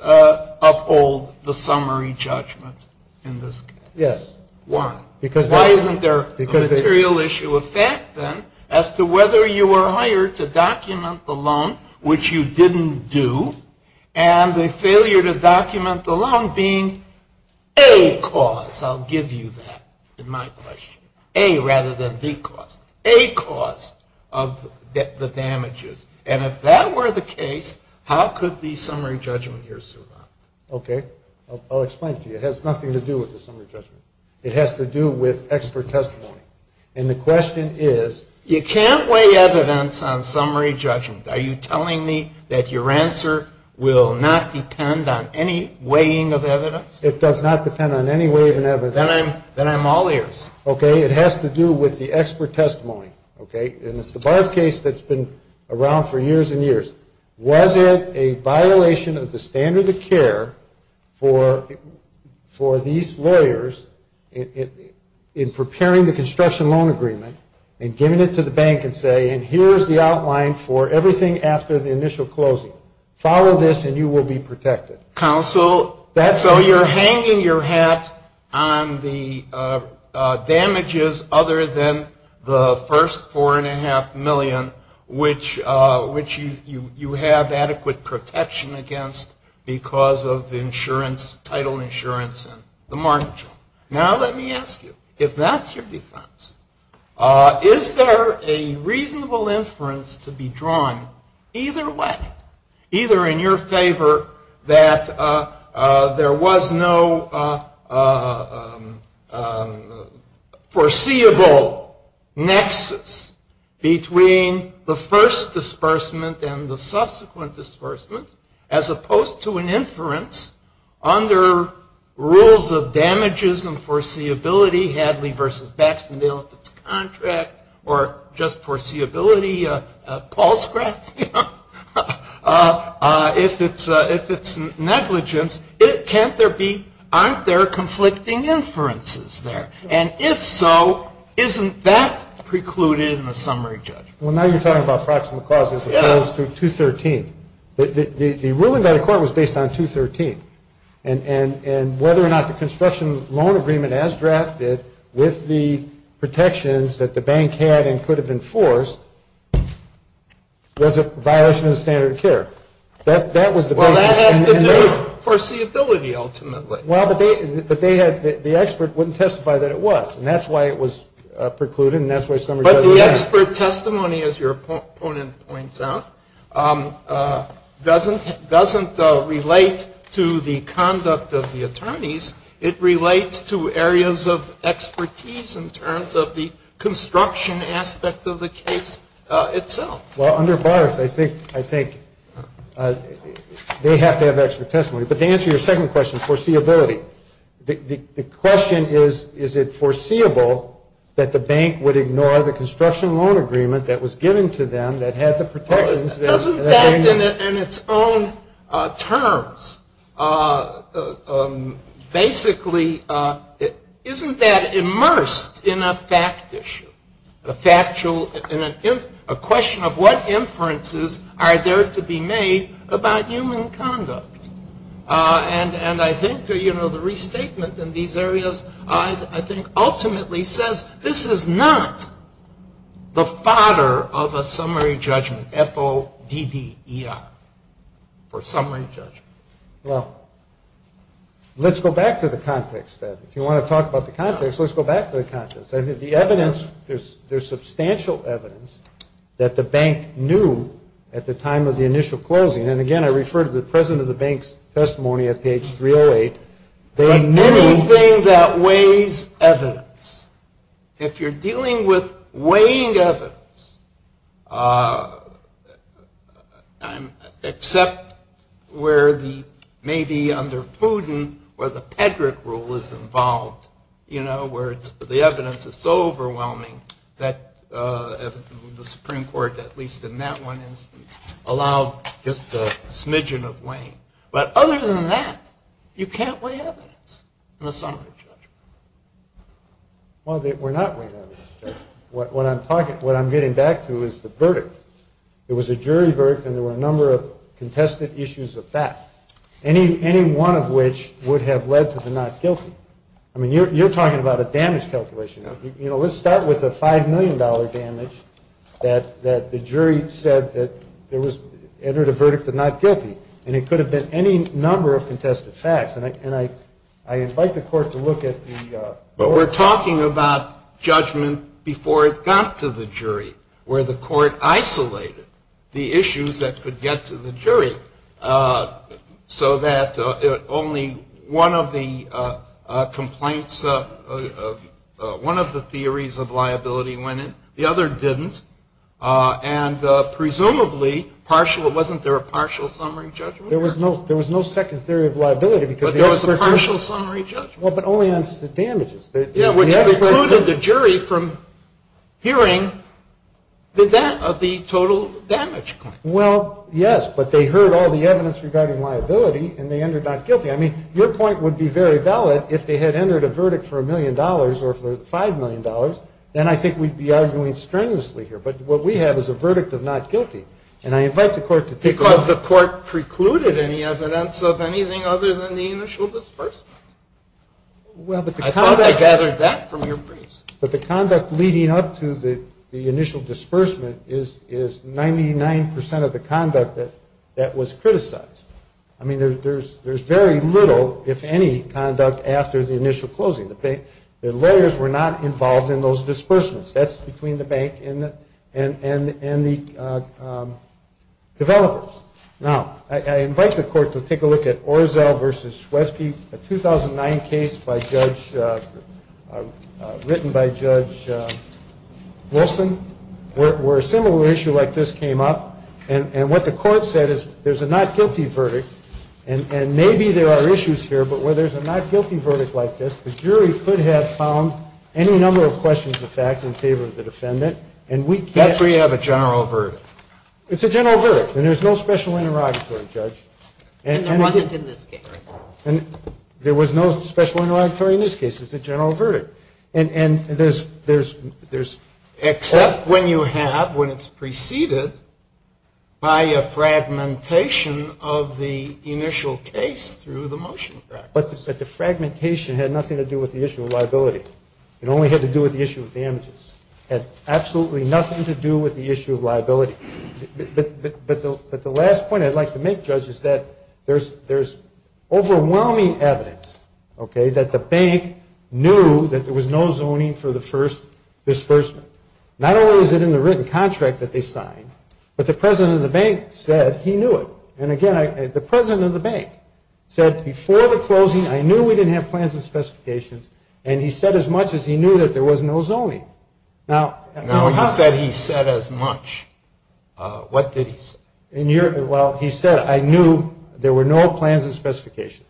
uphold the summary judgment in this case? Yes. Why? Why isn't there a material issue of fact, then, as to whether you were hired to document the loan, which you didn't do, and the failure to document the loan being a cause, I'll give you that, in my question. A rather than B cause. A cause of the damages. And if that were the case, how could the summary judgment be assumed? Okay. I'll explain to you. It has nothing to do with the summary judgment. It has to do with expert testimony. And the question is, you can't weigh evidence on summary judgment. Are you telling me that your answer will not depend on any weighing of evidence? It does not depend on any weighing of evidence. Then I'm all ears. Okay. It has to do with the expert testimony. Okay. And it's the bar case that's been around for years and years. Was it a violation of the standard of care for these lawyers in preparing the construction loan agreement and giving it to the bank and say, and here's the outline for everything after the initial closing. Follow this and you will be protected. Counsel, so you're hanging your hat on the damages other than the first $4.5 million, which you have adequate protection against because of the insurance, title insurance and the mortgage. Now let me ask you, if that's your defense, is there a reasonable inference to be drawn either way, either in your favor that there was no foreseeable nexus between the first disbursement and the subsequent disbursement as opposed to an inference under rules of damages and foreseeability, Hadley v. Baxman, if it's a contract, or just foreseeability, Paul's graph, if it's negligence, can't there be, aren't there conflicting inferences there? And if so, isn't that precluded in the summary judgment? Well, now you're talking about proximal clauses as opposed to 213. The ruling by the court was based on 213. And whether or not the construction loan agreement, as drafted, with the protections that the bank had and could have enforced, was it a violation of the standard of care? Well, that has to do with foreseeability, ultimately. Well, the expert wouldn't testify that it was, and that's why it was precluded, But the expert testimony, as your opponent points out, doesn't relate to the conduct of the attorneys. It relates to areas of expertise in terms of the construction aspect of the case itself. Well, under Barnes, I think they have to have expert testimony. But to answer your second question, foreseeability, the question is, is it foreseeable that the bank would ignore the construction loan agreement that was given to them, that had the protections that they needed? Isn't that, in its own terms, basically, isn't that immersed in a fact issue? A factual, a question of what inferences are there to be made about human conduct? And I think the restatement in these areas, I think, ultimately says, this is not the fodder of a summary judgment, F-O-D-D-E-R, or summary judgment. Well, let's go back to the context, then. If you want to talk about the context, let's go back to the context. The evidence, there's substantial evidence that the bank knew at the time of the initial closing, and again, I refer to the President of the Bank's testimony at page 308. There are many things that weighs evidence. If you're dealing with weighing evidence, except where the, maybe under Putin, where the Pedrick Rule is involved, you know, where the evidence is so overwhelming that the Supreme Court, at least in that one instance, allowed just a smidgen of weighing. But other than that, you can't weigh evidence in a summary judgment. Well, we're not weighing evidence. What I'm getting back to is the verdict. There was a jury verdict, and there were a number of contested issues of fact, any one of which would have led to the not guilty. I mean, you're talking about a damage calculation. You know, let's start with a $5 million damage that the jury said that there was, entered a verdict of not guilty, and it could have been any number of contested facts, and I invite the court to look at the court. But we're talking about judgment before it got to the jury, where the court isolated the issues that could get to the jury, so that only one of the complaints, one of the theories of liability went in. The other didn't. And presumably, wasn't there a partial summary judgment? There was no second theory of liability, because there was a partial summary judgment. Well, but only on the damages. It excluded the jury from hearing the total damage claim. Well, yes, but they heard all the evidence regarding liability, and they entered not guilty. I mean, your point would be very valid if they had entered a verdict for $1 million or for $5 million, then I think we'd be arguing strenuously here. But what we have is a verdict of not guilty, and I invite the court to take a look. Because the court precluded any evidence of anything other than the initial disbursement. I thought I gathered that from your briefs. But the conduct leading up to the initial disbursement is 99% of the conduct that was criticized. I mean, there's very little, if any, conduct after the initial closing. The lawyers were not involved in those disbursements. That's between the bank and the developers. Now, I invite the court to take a look at Orzell v. Swesky, a 2009 case written by Judge Wilson, where a similar issue like this came up. And what the court said is there's a not guilty verdict, and maybe there are issues here, but where there's a not guilty verdict like this, the jury could have found any number of questions of fact in favor of the defendant. That's where you have a general verdict. It's a general verdict, and there's no special interrogatory, Judge. And there wasn't in this case. And there was no special interrogatory in this case. It's a general verdict. And there's... Except when you have, when it's preceded by a fragmentation of the initial case through the motion practice. But the fragmentation had nothing to do with the issue of liability. It only had to do with the issue of damages. It had absolutely nothing to do with the issue of liability. But the last point I'd like to make, Judge, is that there's overwhelming evidence, okay, that the bank knew that there was no zoning for the first disbursement. Not only was it in the written contract that they signed, but the president of the bank said he knew it. And, again, the president of the bank said before the closing, I knew we didn't have plans and specifications. And he said as much as he knew that there was no zoning. Now, not that he said as much. What did he say? Well, he said, I knew there were no plans and specifications.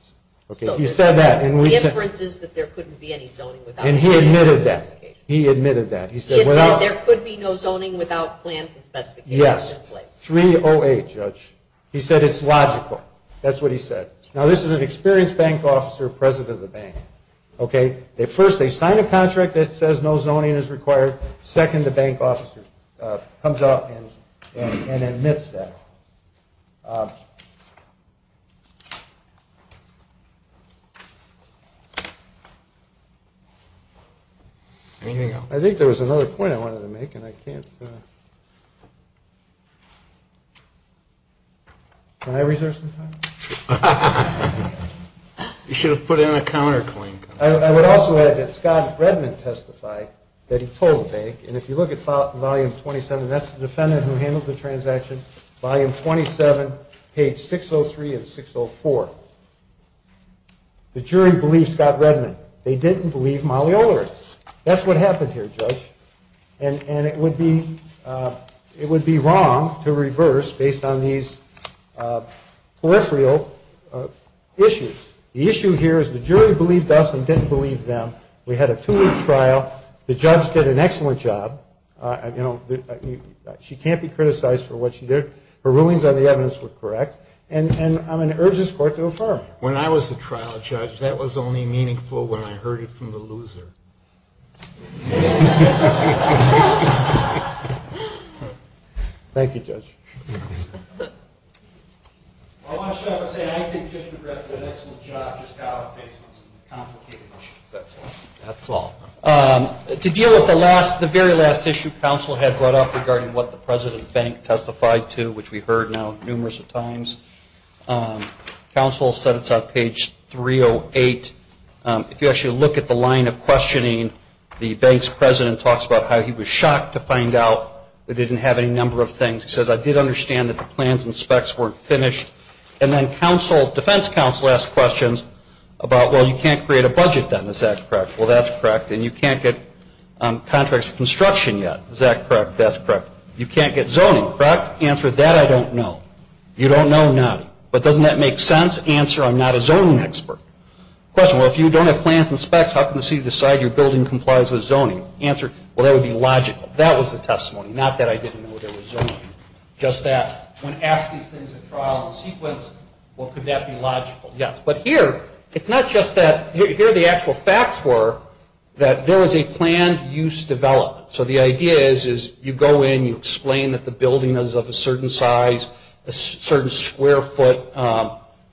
Okay, he said that. The difference is that there couldn't be any zoning without plans and specifications. And he admitted that. He admitted that. He said there could be no zoning without plans and specifications in place. Yes, 308, Judge. He said it's logical. That's what he said. Now, this is an experienced bank officer, president of the bank, okay. At first, they sign a contract that says no zoning is required. Second, the bank officer comes out and admits that. I think there was another point I wanted to make, and I can't. Can I reserve some time? You should have put in a counterpoint. I would also add that Scott Redman testified that he told the bank, and if you look at volume 27, that's the defendant who handled the transaction. Volume 27, page 603 and 604. The jury believed Scott Redman. They didn't believe Molly Olerith. That's what happened here, Judge. And it would be wrong to reverse based on these peripheral issues. The issue here is the jury believed us and didn't believe them. We had a two-week trial. The judge did an excellent job. She can't be criticized for what she did. Her rulings on the evidence were correct. And I'm in urgent support of the attorney. When I was a trial judge, that was only meaningful when I heard it from the loser. Thank you, Judge. I want to stop and say I think Judge McGregor did an excellent job of validating some of the counsel's findings. That's all. To deal with the very last issue counsel had brought up regarding what the President's Bank testified to, which we've heard now numerous times, counsel said it's on page 308. If you actually look at the line of questioning, the Bank's President talks about how he was shocked to find out it didn't have any number of things. He says, I did understand that the plans and specs weren't finished. And then defense counsel asked questions about, well, you can't create a budget then. Is that correct? Well, that's correct. And you can't get contracts for construction yet. Is that correct? That's correct. You can't get zoning, correct? Answer, that I don't know. You don't know none. But doesn't that make sense? Answer, I'm not a zoning expert. Question, well, if you don't have plans and specs, how can the city decide your building complies with zoning? Answer, well, that would be logical. That was the testimony. Not that I didn't know there was zoning. Just that when asking things in trial and sequence, well, could that be logical? Yes. But here, it's not just that. Here the actual facts were that there was a plan used to develop. So the idea is you go in, you explain that the building is of a certain size, a certain square foot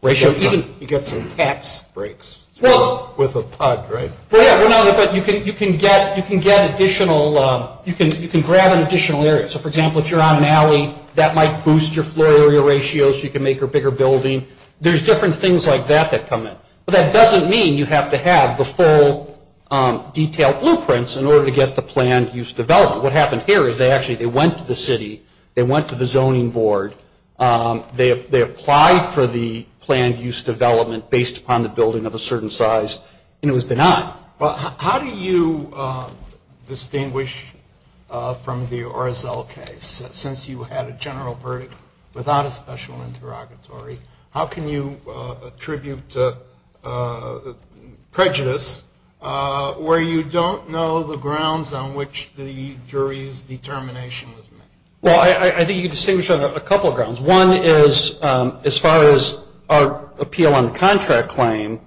ratio. You can get some tax breaks. Well, no, but you can get additional, you can grab an additional area. So, for example, if you're on an alley, that might boost your floor area ratio so you can make a bigger building. There's different things like that that come in. But that doesn't mean you have to have the full detailed blueprints in order to get the plan used to develop. What happened here is they actually, they went to the city, they went to the zoning board, they applied for the planned use development based upon the building of a certain size, and it was denied. How do you distinguish from the RSL case? Since you had a general verdict without a special interrogatory, how can you attribute prejudice where you don't know the grounds on which the jury's determination was made? Well, I think you distinguish on a couple of grounds. One is as far as our appeal on the contract claim,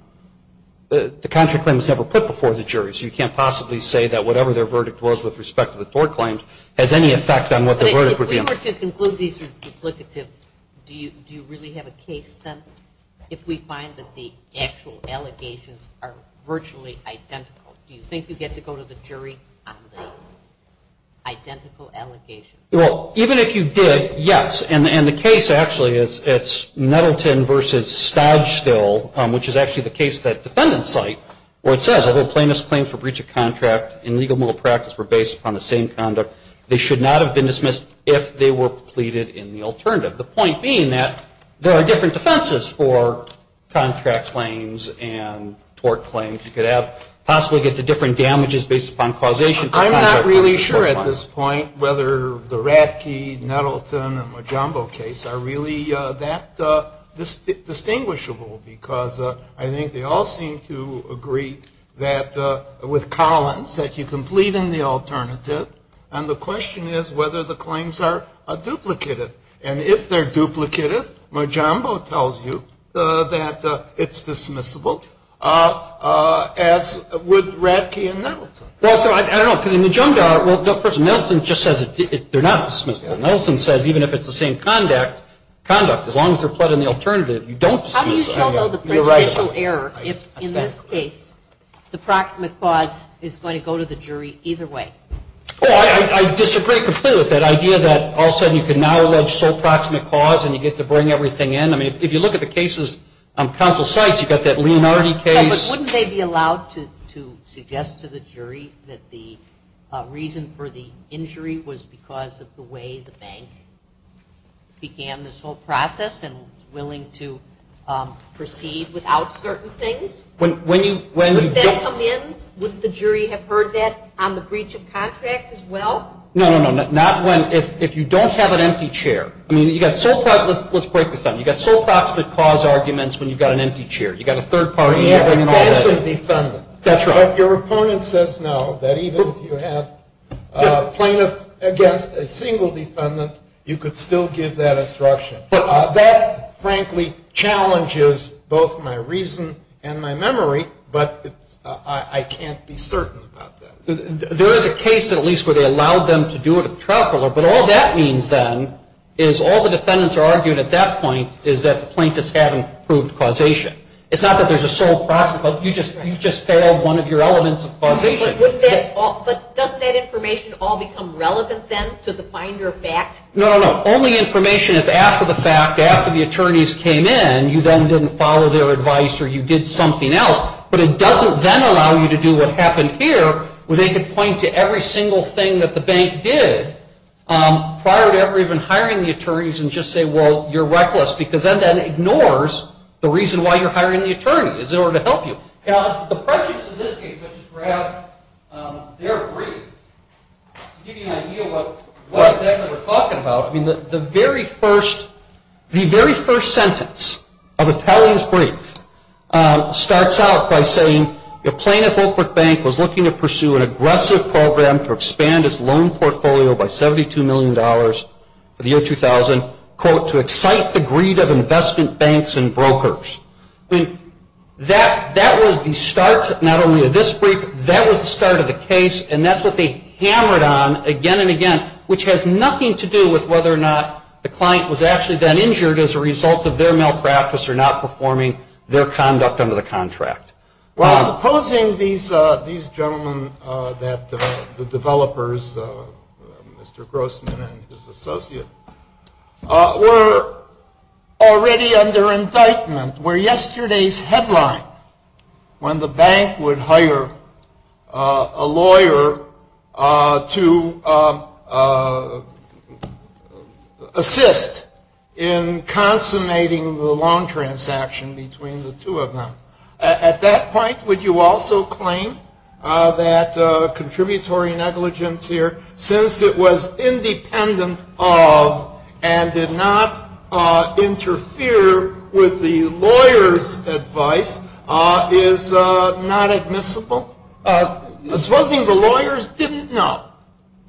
the contract claim is never put before the jury, so you can't possibly say that whatever their verdict was with respect to the floor claims has any effect on what their verdict would be. If we were to conclude these are duplicative, do you really have a case sense? If we find that the actual allegations are virtually identical, do you think you get to go to the jury on the identical allegations? Well, even if you did, yes, and the case actually is Nettleton v. Stoudstill, which is actually the case of that defendant's site, where it says, although plaintiffs' claims for breach of contract in legal and moral practice were based upon the same conduct, they should not have been dismissed if they were pleaded in the alternative. The point being that there are different defenses for contract claims and tort claims. You could possibly get to different damages based upon causation. I'm not really sure at this point whether the Raffke, Nettleton, and Majumbo case are really that distinguishable, because I think they all seem to agree that with Collins, that you can plead in the alternative, and the question is whether the claims are duplicated. And if they're duplicated, Majumbo tells you that it's dismissible, as would Raffke and Nettleton. Well, so I don't know, because in Majumbo, the person, Nettleton, just says they're not dismissible. Nettleton says even if it's the same conduct, as long as they're plead in the alternative, you don't see some of the erasure. How do you show the pre-judicial error if, in this case, the proximate clause is going to go to the jury either way? Well, I disagree completely with that idea that all of a sudden you can now allege sole proximate clause and you get to bring everything in. I mean, if you look at the cases on counsel's sites, you've got that Leonardi case. But wouldn't they be allowed to suggest to the jury that the reason for the injury was because of the way the bank began this whole process and was willing to proceed without certain things? Would that come in? Would the jury have heard that on the breach of contract as well? No, no, no. Not when, if you don't have an empty chair. I mean, you've got sole proximate clause arguments when you've got an empty chair. You've got a third party. But your opponent says no, that even if you have plaintiff against a single defendant, you could still give that instruction. But that, frankly, challenges both my reason and my memory, but I can't be certain about that. There is a case at least where they allowed them to do it at the trial court, but all that means then is all the defendants argued at that point is that the plaintiffs haven't proved causation. It's not that there's a sole proximate clause. You just failed one of your elements of causation. But doesn't that information all become relevant then to the finder of facts? No, no, no. Only information is after the fact, after the attorneys came in, and you then didn't follow their advice or you did something else. But it doesn't then allow you to do what happened here, where they could point to every single thing that the bank did prior to ever even hiring the attorneys and just say, well, you're reckless, because then that ignores the reason why you're hiring an attorney. Is there a way to help you? Now, the prejudice in this case is perhaps their greed, to give you an idea of what exactly they're talking about. I mean, the very first sentence of Appellant's brief starts out by saying, the plaintiff Oakbrook Bank was looking to pursue an aggressive program to expand its loan portfolio by $72 million for the year 2000, quote, to excite the greed of investment banks and brokers. I mean, that was the start, not only of this brief, that was the start of the case, and that's what they hammered on again and again, which has nothing to do with whether or not the client was actually then injured as a result of their malpractice or not performing their conduct under the contract. Well, supposing these gentlemen, the developers, Mr. Grossman and his associates, were already under indictment where yesterday's headline, when the bank would hire a lawyer to assist in consummating the loan transaction between the two of them, at that point, would you also claim that contributory negligence here, since it was independent of and did not interfere with the lawyer's advice, is not admissible? Supposing the lawyers didn't know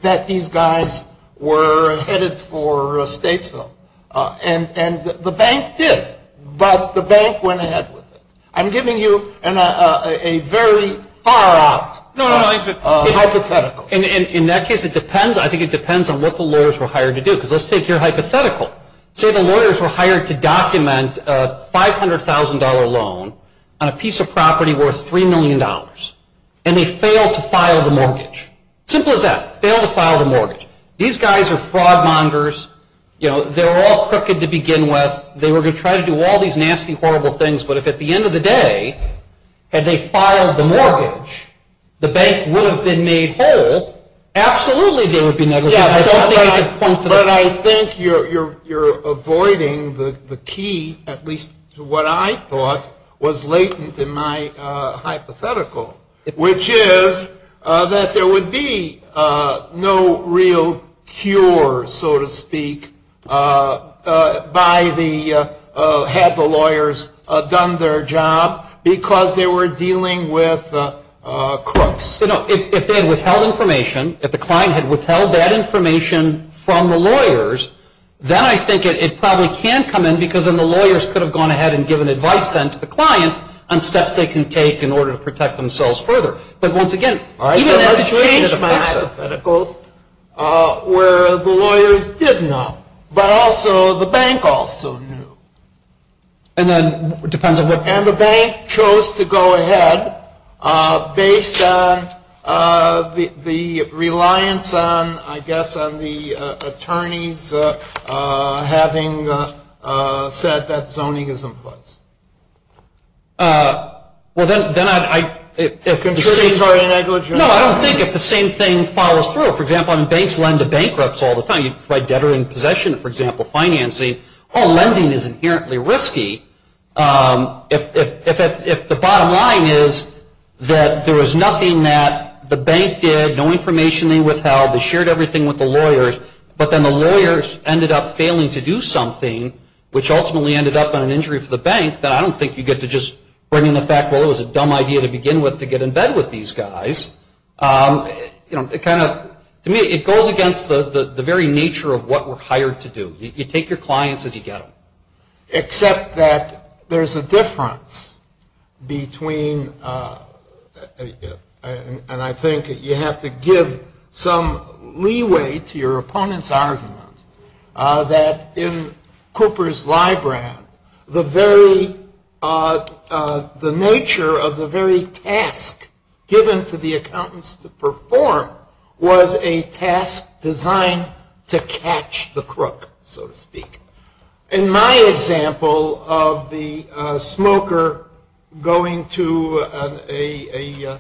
that these guys were headed for Statesville, and the bank did, but the bank went ahead with it. I'm giving you a very far out hypothetical. In that case, I think it depends on what the lawyers were hired to do, because let's take your hypothetical. Say the lawyers were hired to document a $500,000 loan on a piece of property worth $3 million, and they failed to file the mortgage. Simple as that. Failed to file the mortgage. These guys are fraud mongers. They were all crooked to begin with. They were to try to do all these nasty, horrible things, but if at the end of the day, had they filed the mortgage, the bank would have been made whole. Absolutely there would be negligence. But I think you're avoiding the key, at least to what I thought was latent in my hypothetical, which is that there would be no real cure, so to speak, had the lawyers done their job, because they were dealing with crooks. If they had withheld information, if the client had withheld that information from the lawyers, then I think it probably can't come in, because then the lawyers could have gone ahead and given advice then to the client on steps they can take in order to protect themselves further. But, once again, even that changed my hypothetical, where the lawyers did know, but also the bank also knew. And then, it depends on the bank. If the bank chose to go ahead, based on the reliance on, I guess, on the attorneys having said that zoning is in place. No, I don't think if the same thing follows through. For example, banks lend to bankrupts all the time. You can provide debtor in possession, for example, financing. Well, lending is inherently risky if the bottom line is that there was nothing that the bank did, no information being withheld, they shared everything with the lawyers, but then the lawyers ended up failing to do something, which ultimately ended up on an injury for the bank. I don't think you get to just bring in the fact, well, it was a dumb idea to begin with to get in bed with these guys. To me, it goes against the very nature of what we're hired to do. You take your clients as you go. Except that there's a difference between, and I think you have to give some leeway to your opponent's argument, that in Cooper's Library, the nature of the very task given to the accountants to perform was a task designed to catch the crook, so to speak. In my example of the smoker going to the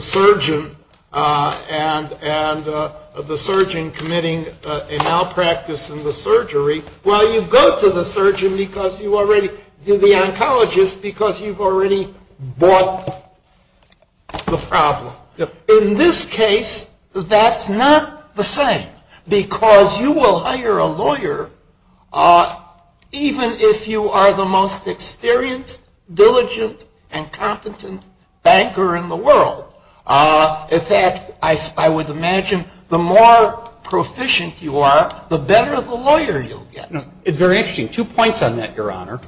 surgeon and the surgeon committing an malpractice in the surgery, well, you go to the surgeon because you already did the oncologist because you've already bought the problem. In this case, that's not the same because you will hire a lawyer even if you are the most experienced, diligent, and competent banker in the world. In fact, I would imagine the more proficient you are, the better of a lawyer you'll get. Very interesting. Two points on that, Your Honor.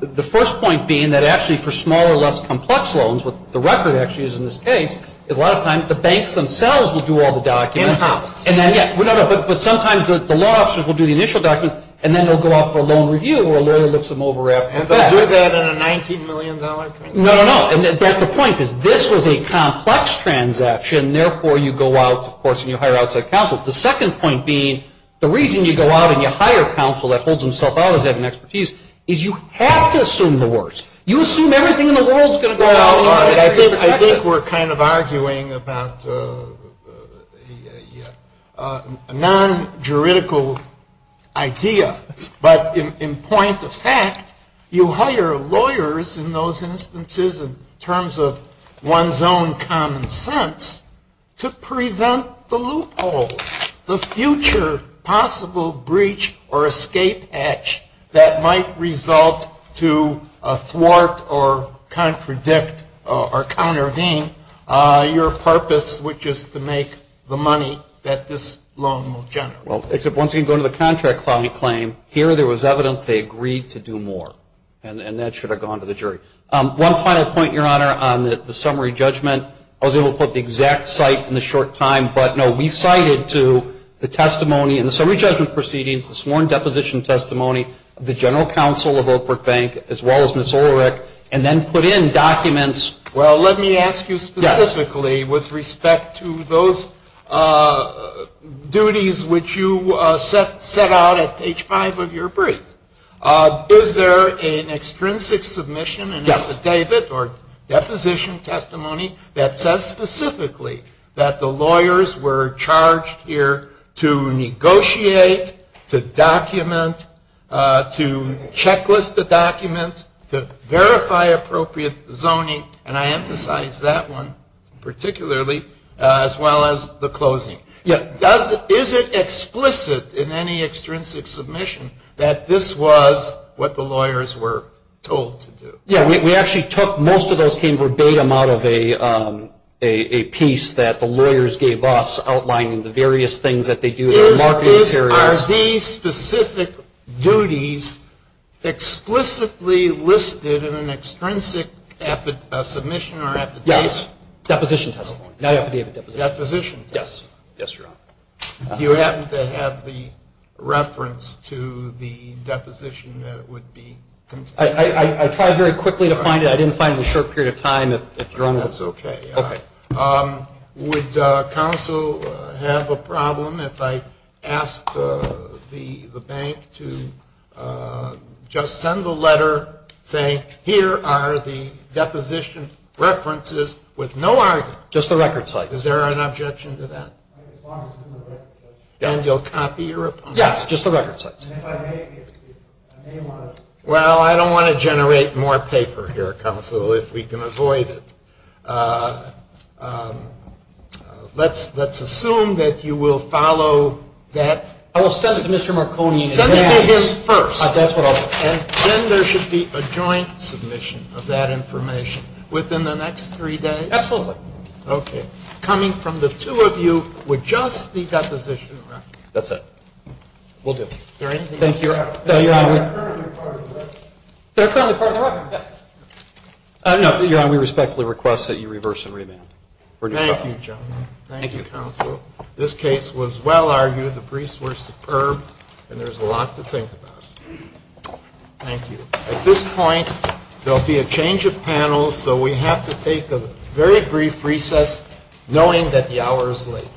The first point being that actually for smaller, less complex loans, what the record actually is in this case, is a lot of times the banks themselves will do all the documents. In-house. But sometimes the law officers will do the initial documents and then they'll go out for a loan review or a lawyer looks them over after the fact. Would they do that in a $19 million contract? No, no, no. That's the point is this was a complex transaction, therefore you go out, of course, and you hire outside counsel. The second point being the reason you go out and you hire counsel that holds himself out as having expertise is you have to assume the worst. You assume everything in the world is going to go wrong. I think we're kind of arguing about a non-juridical idea, but in point of fact, you hire lawyers in those instances in terms of one's own common sense to prevent the loopholes, the future possible breach or escape hatch that might result to thwart or contradict or countervein your purpose, which is to make the money that this loan will generate. Well, except once you go to the contract client claim, here there was evidence they agreed to do more, and that should have gone to the jury. One final point, Your Honor, on the summary judgment. I was able to put the exact site in the short time, but, no, we cited to the testimony in the summary judgment proceedings, the sworn deposition testimony, the general counsel of Oak Brook Bank, as well as Ms. Ulrich, and then put in documents. Well, let me ask you specifically with respect to those duties which you set out at page five of your brief. Is there an extrinsic submission, an affidavit or deposition testimony that says specifically that the lawyers were charged here to negotiate, to document, to checklist the document, to verify appropriate zoning, and I emphasize that one particularly, as well as the closing. Is it explicit in any extrinsic submission that this was what the lawyers were told to do? Yeah, we actually took most of those things verbatim out of a piece that the lawyers gave us, outlining the various things that they do in the marketing area. Are these specific duties explicitly listed in an extrinsic submission or affidavit? Yes. Deposition testimony, not affidavit deposition. Deposition. Yes. Yes, Your Honor. Do you happen to have the reference to the deposition that it would be? I tried very quickly to find it. I didn't find it in a short period of time. That's okay. Okay. Would counsel have a problem if I asked the bank to just send the letter saying, here are the deposition references with no argument? Just the record site. Is there an objection to that? Then you'll copy your reply? Yes, just the record site. And if I make it? Well, I don't want to generate more paper here, counsel, if we can avoid it. Let's assume that you will follow that. I will send it to Mr. Marconi. Send it to him first. That's what I'll do. And then there should be a joint submission of that information within the next three days? Absolutely. Okay. Coming from the two of you would just be deposition. That's it. We'll do it. Thank you. That's on the part of the record. No, Your Honor, we respectfully request that you reverse and remand. Thank you, counsel. This case was well argued. The briefs were superb, and there's a lot to think about. Thank you. At this point, there will be a change of panels, so we have to take a very brief recess knowing that the hour is late.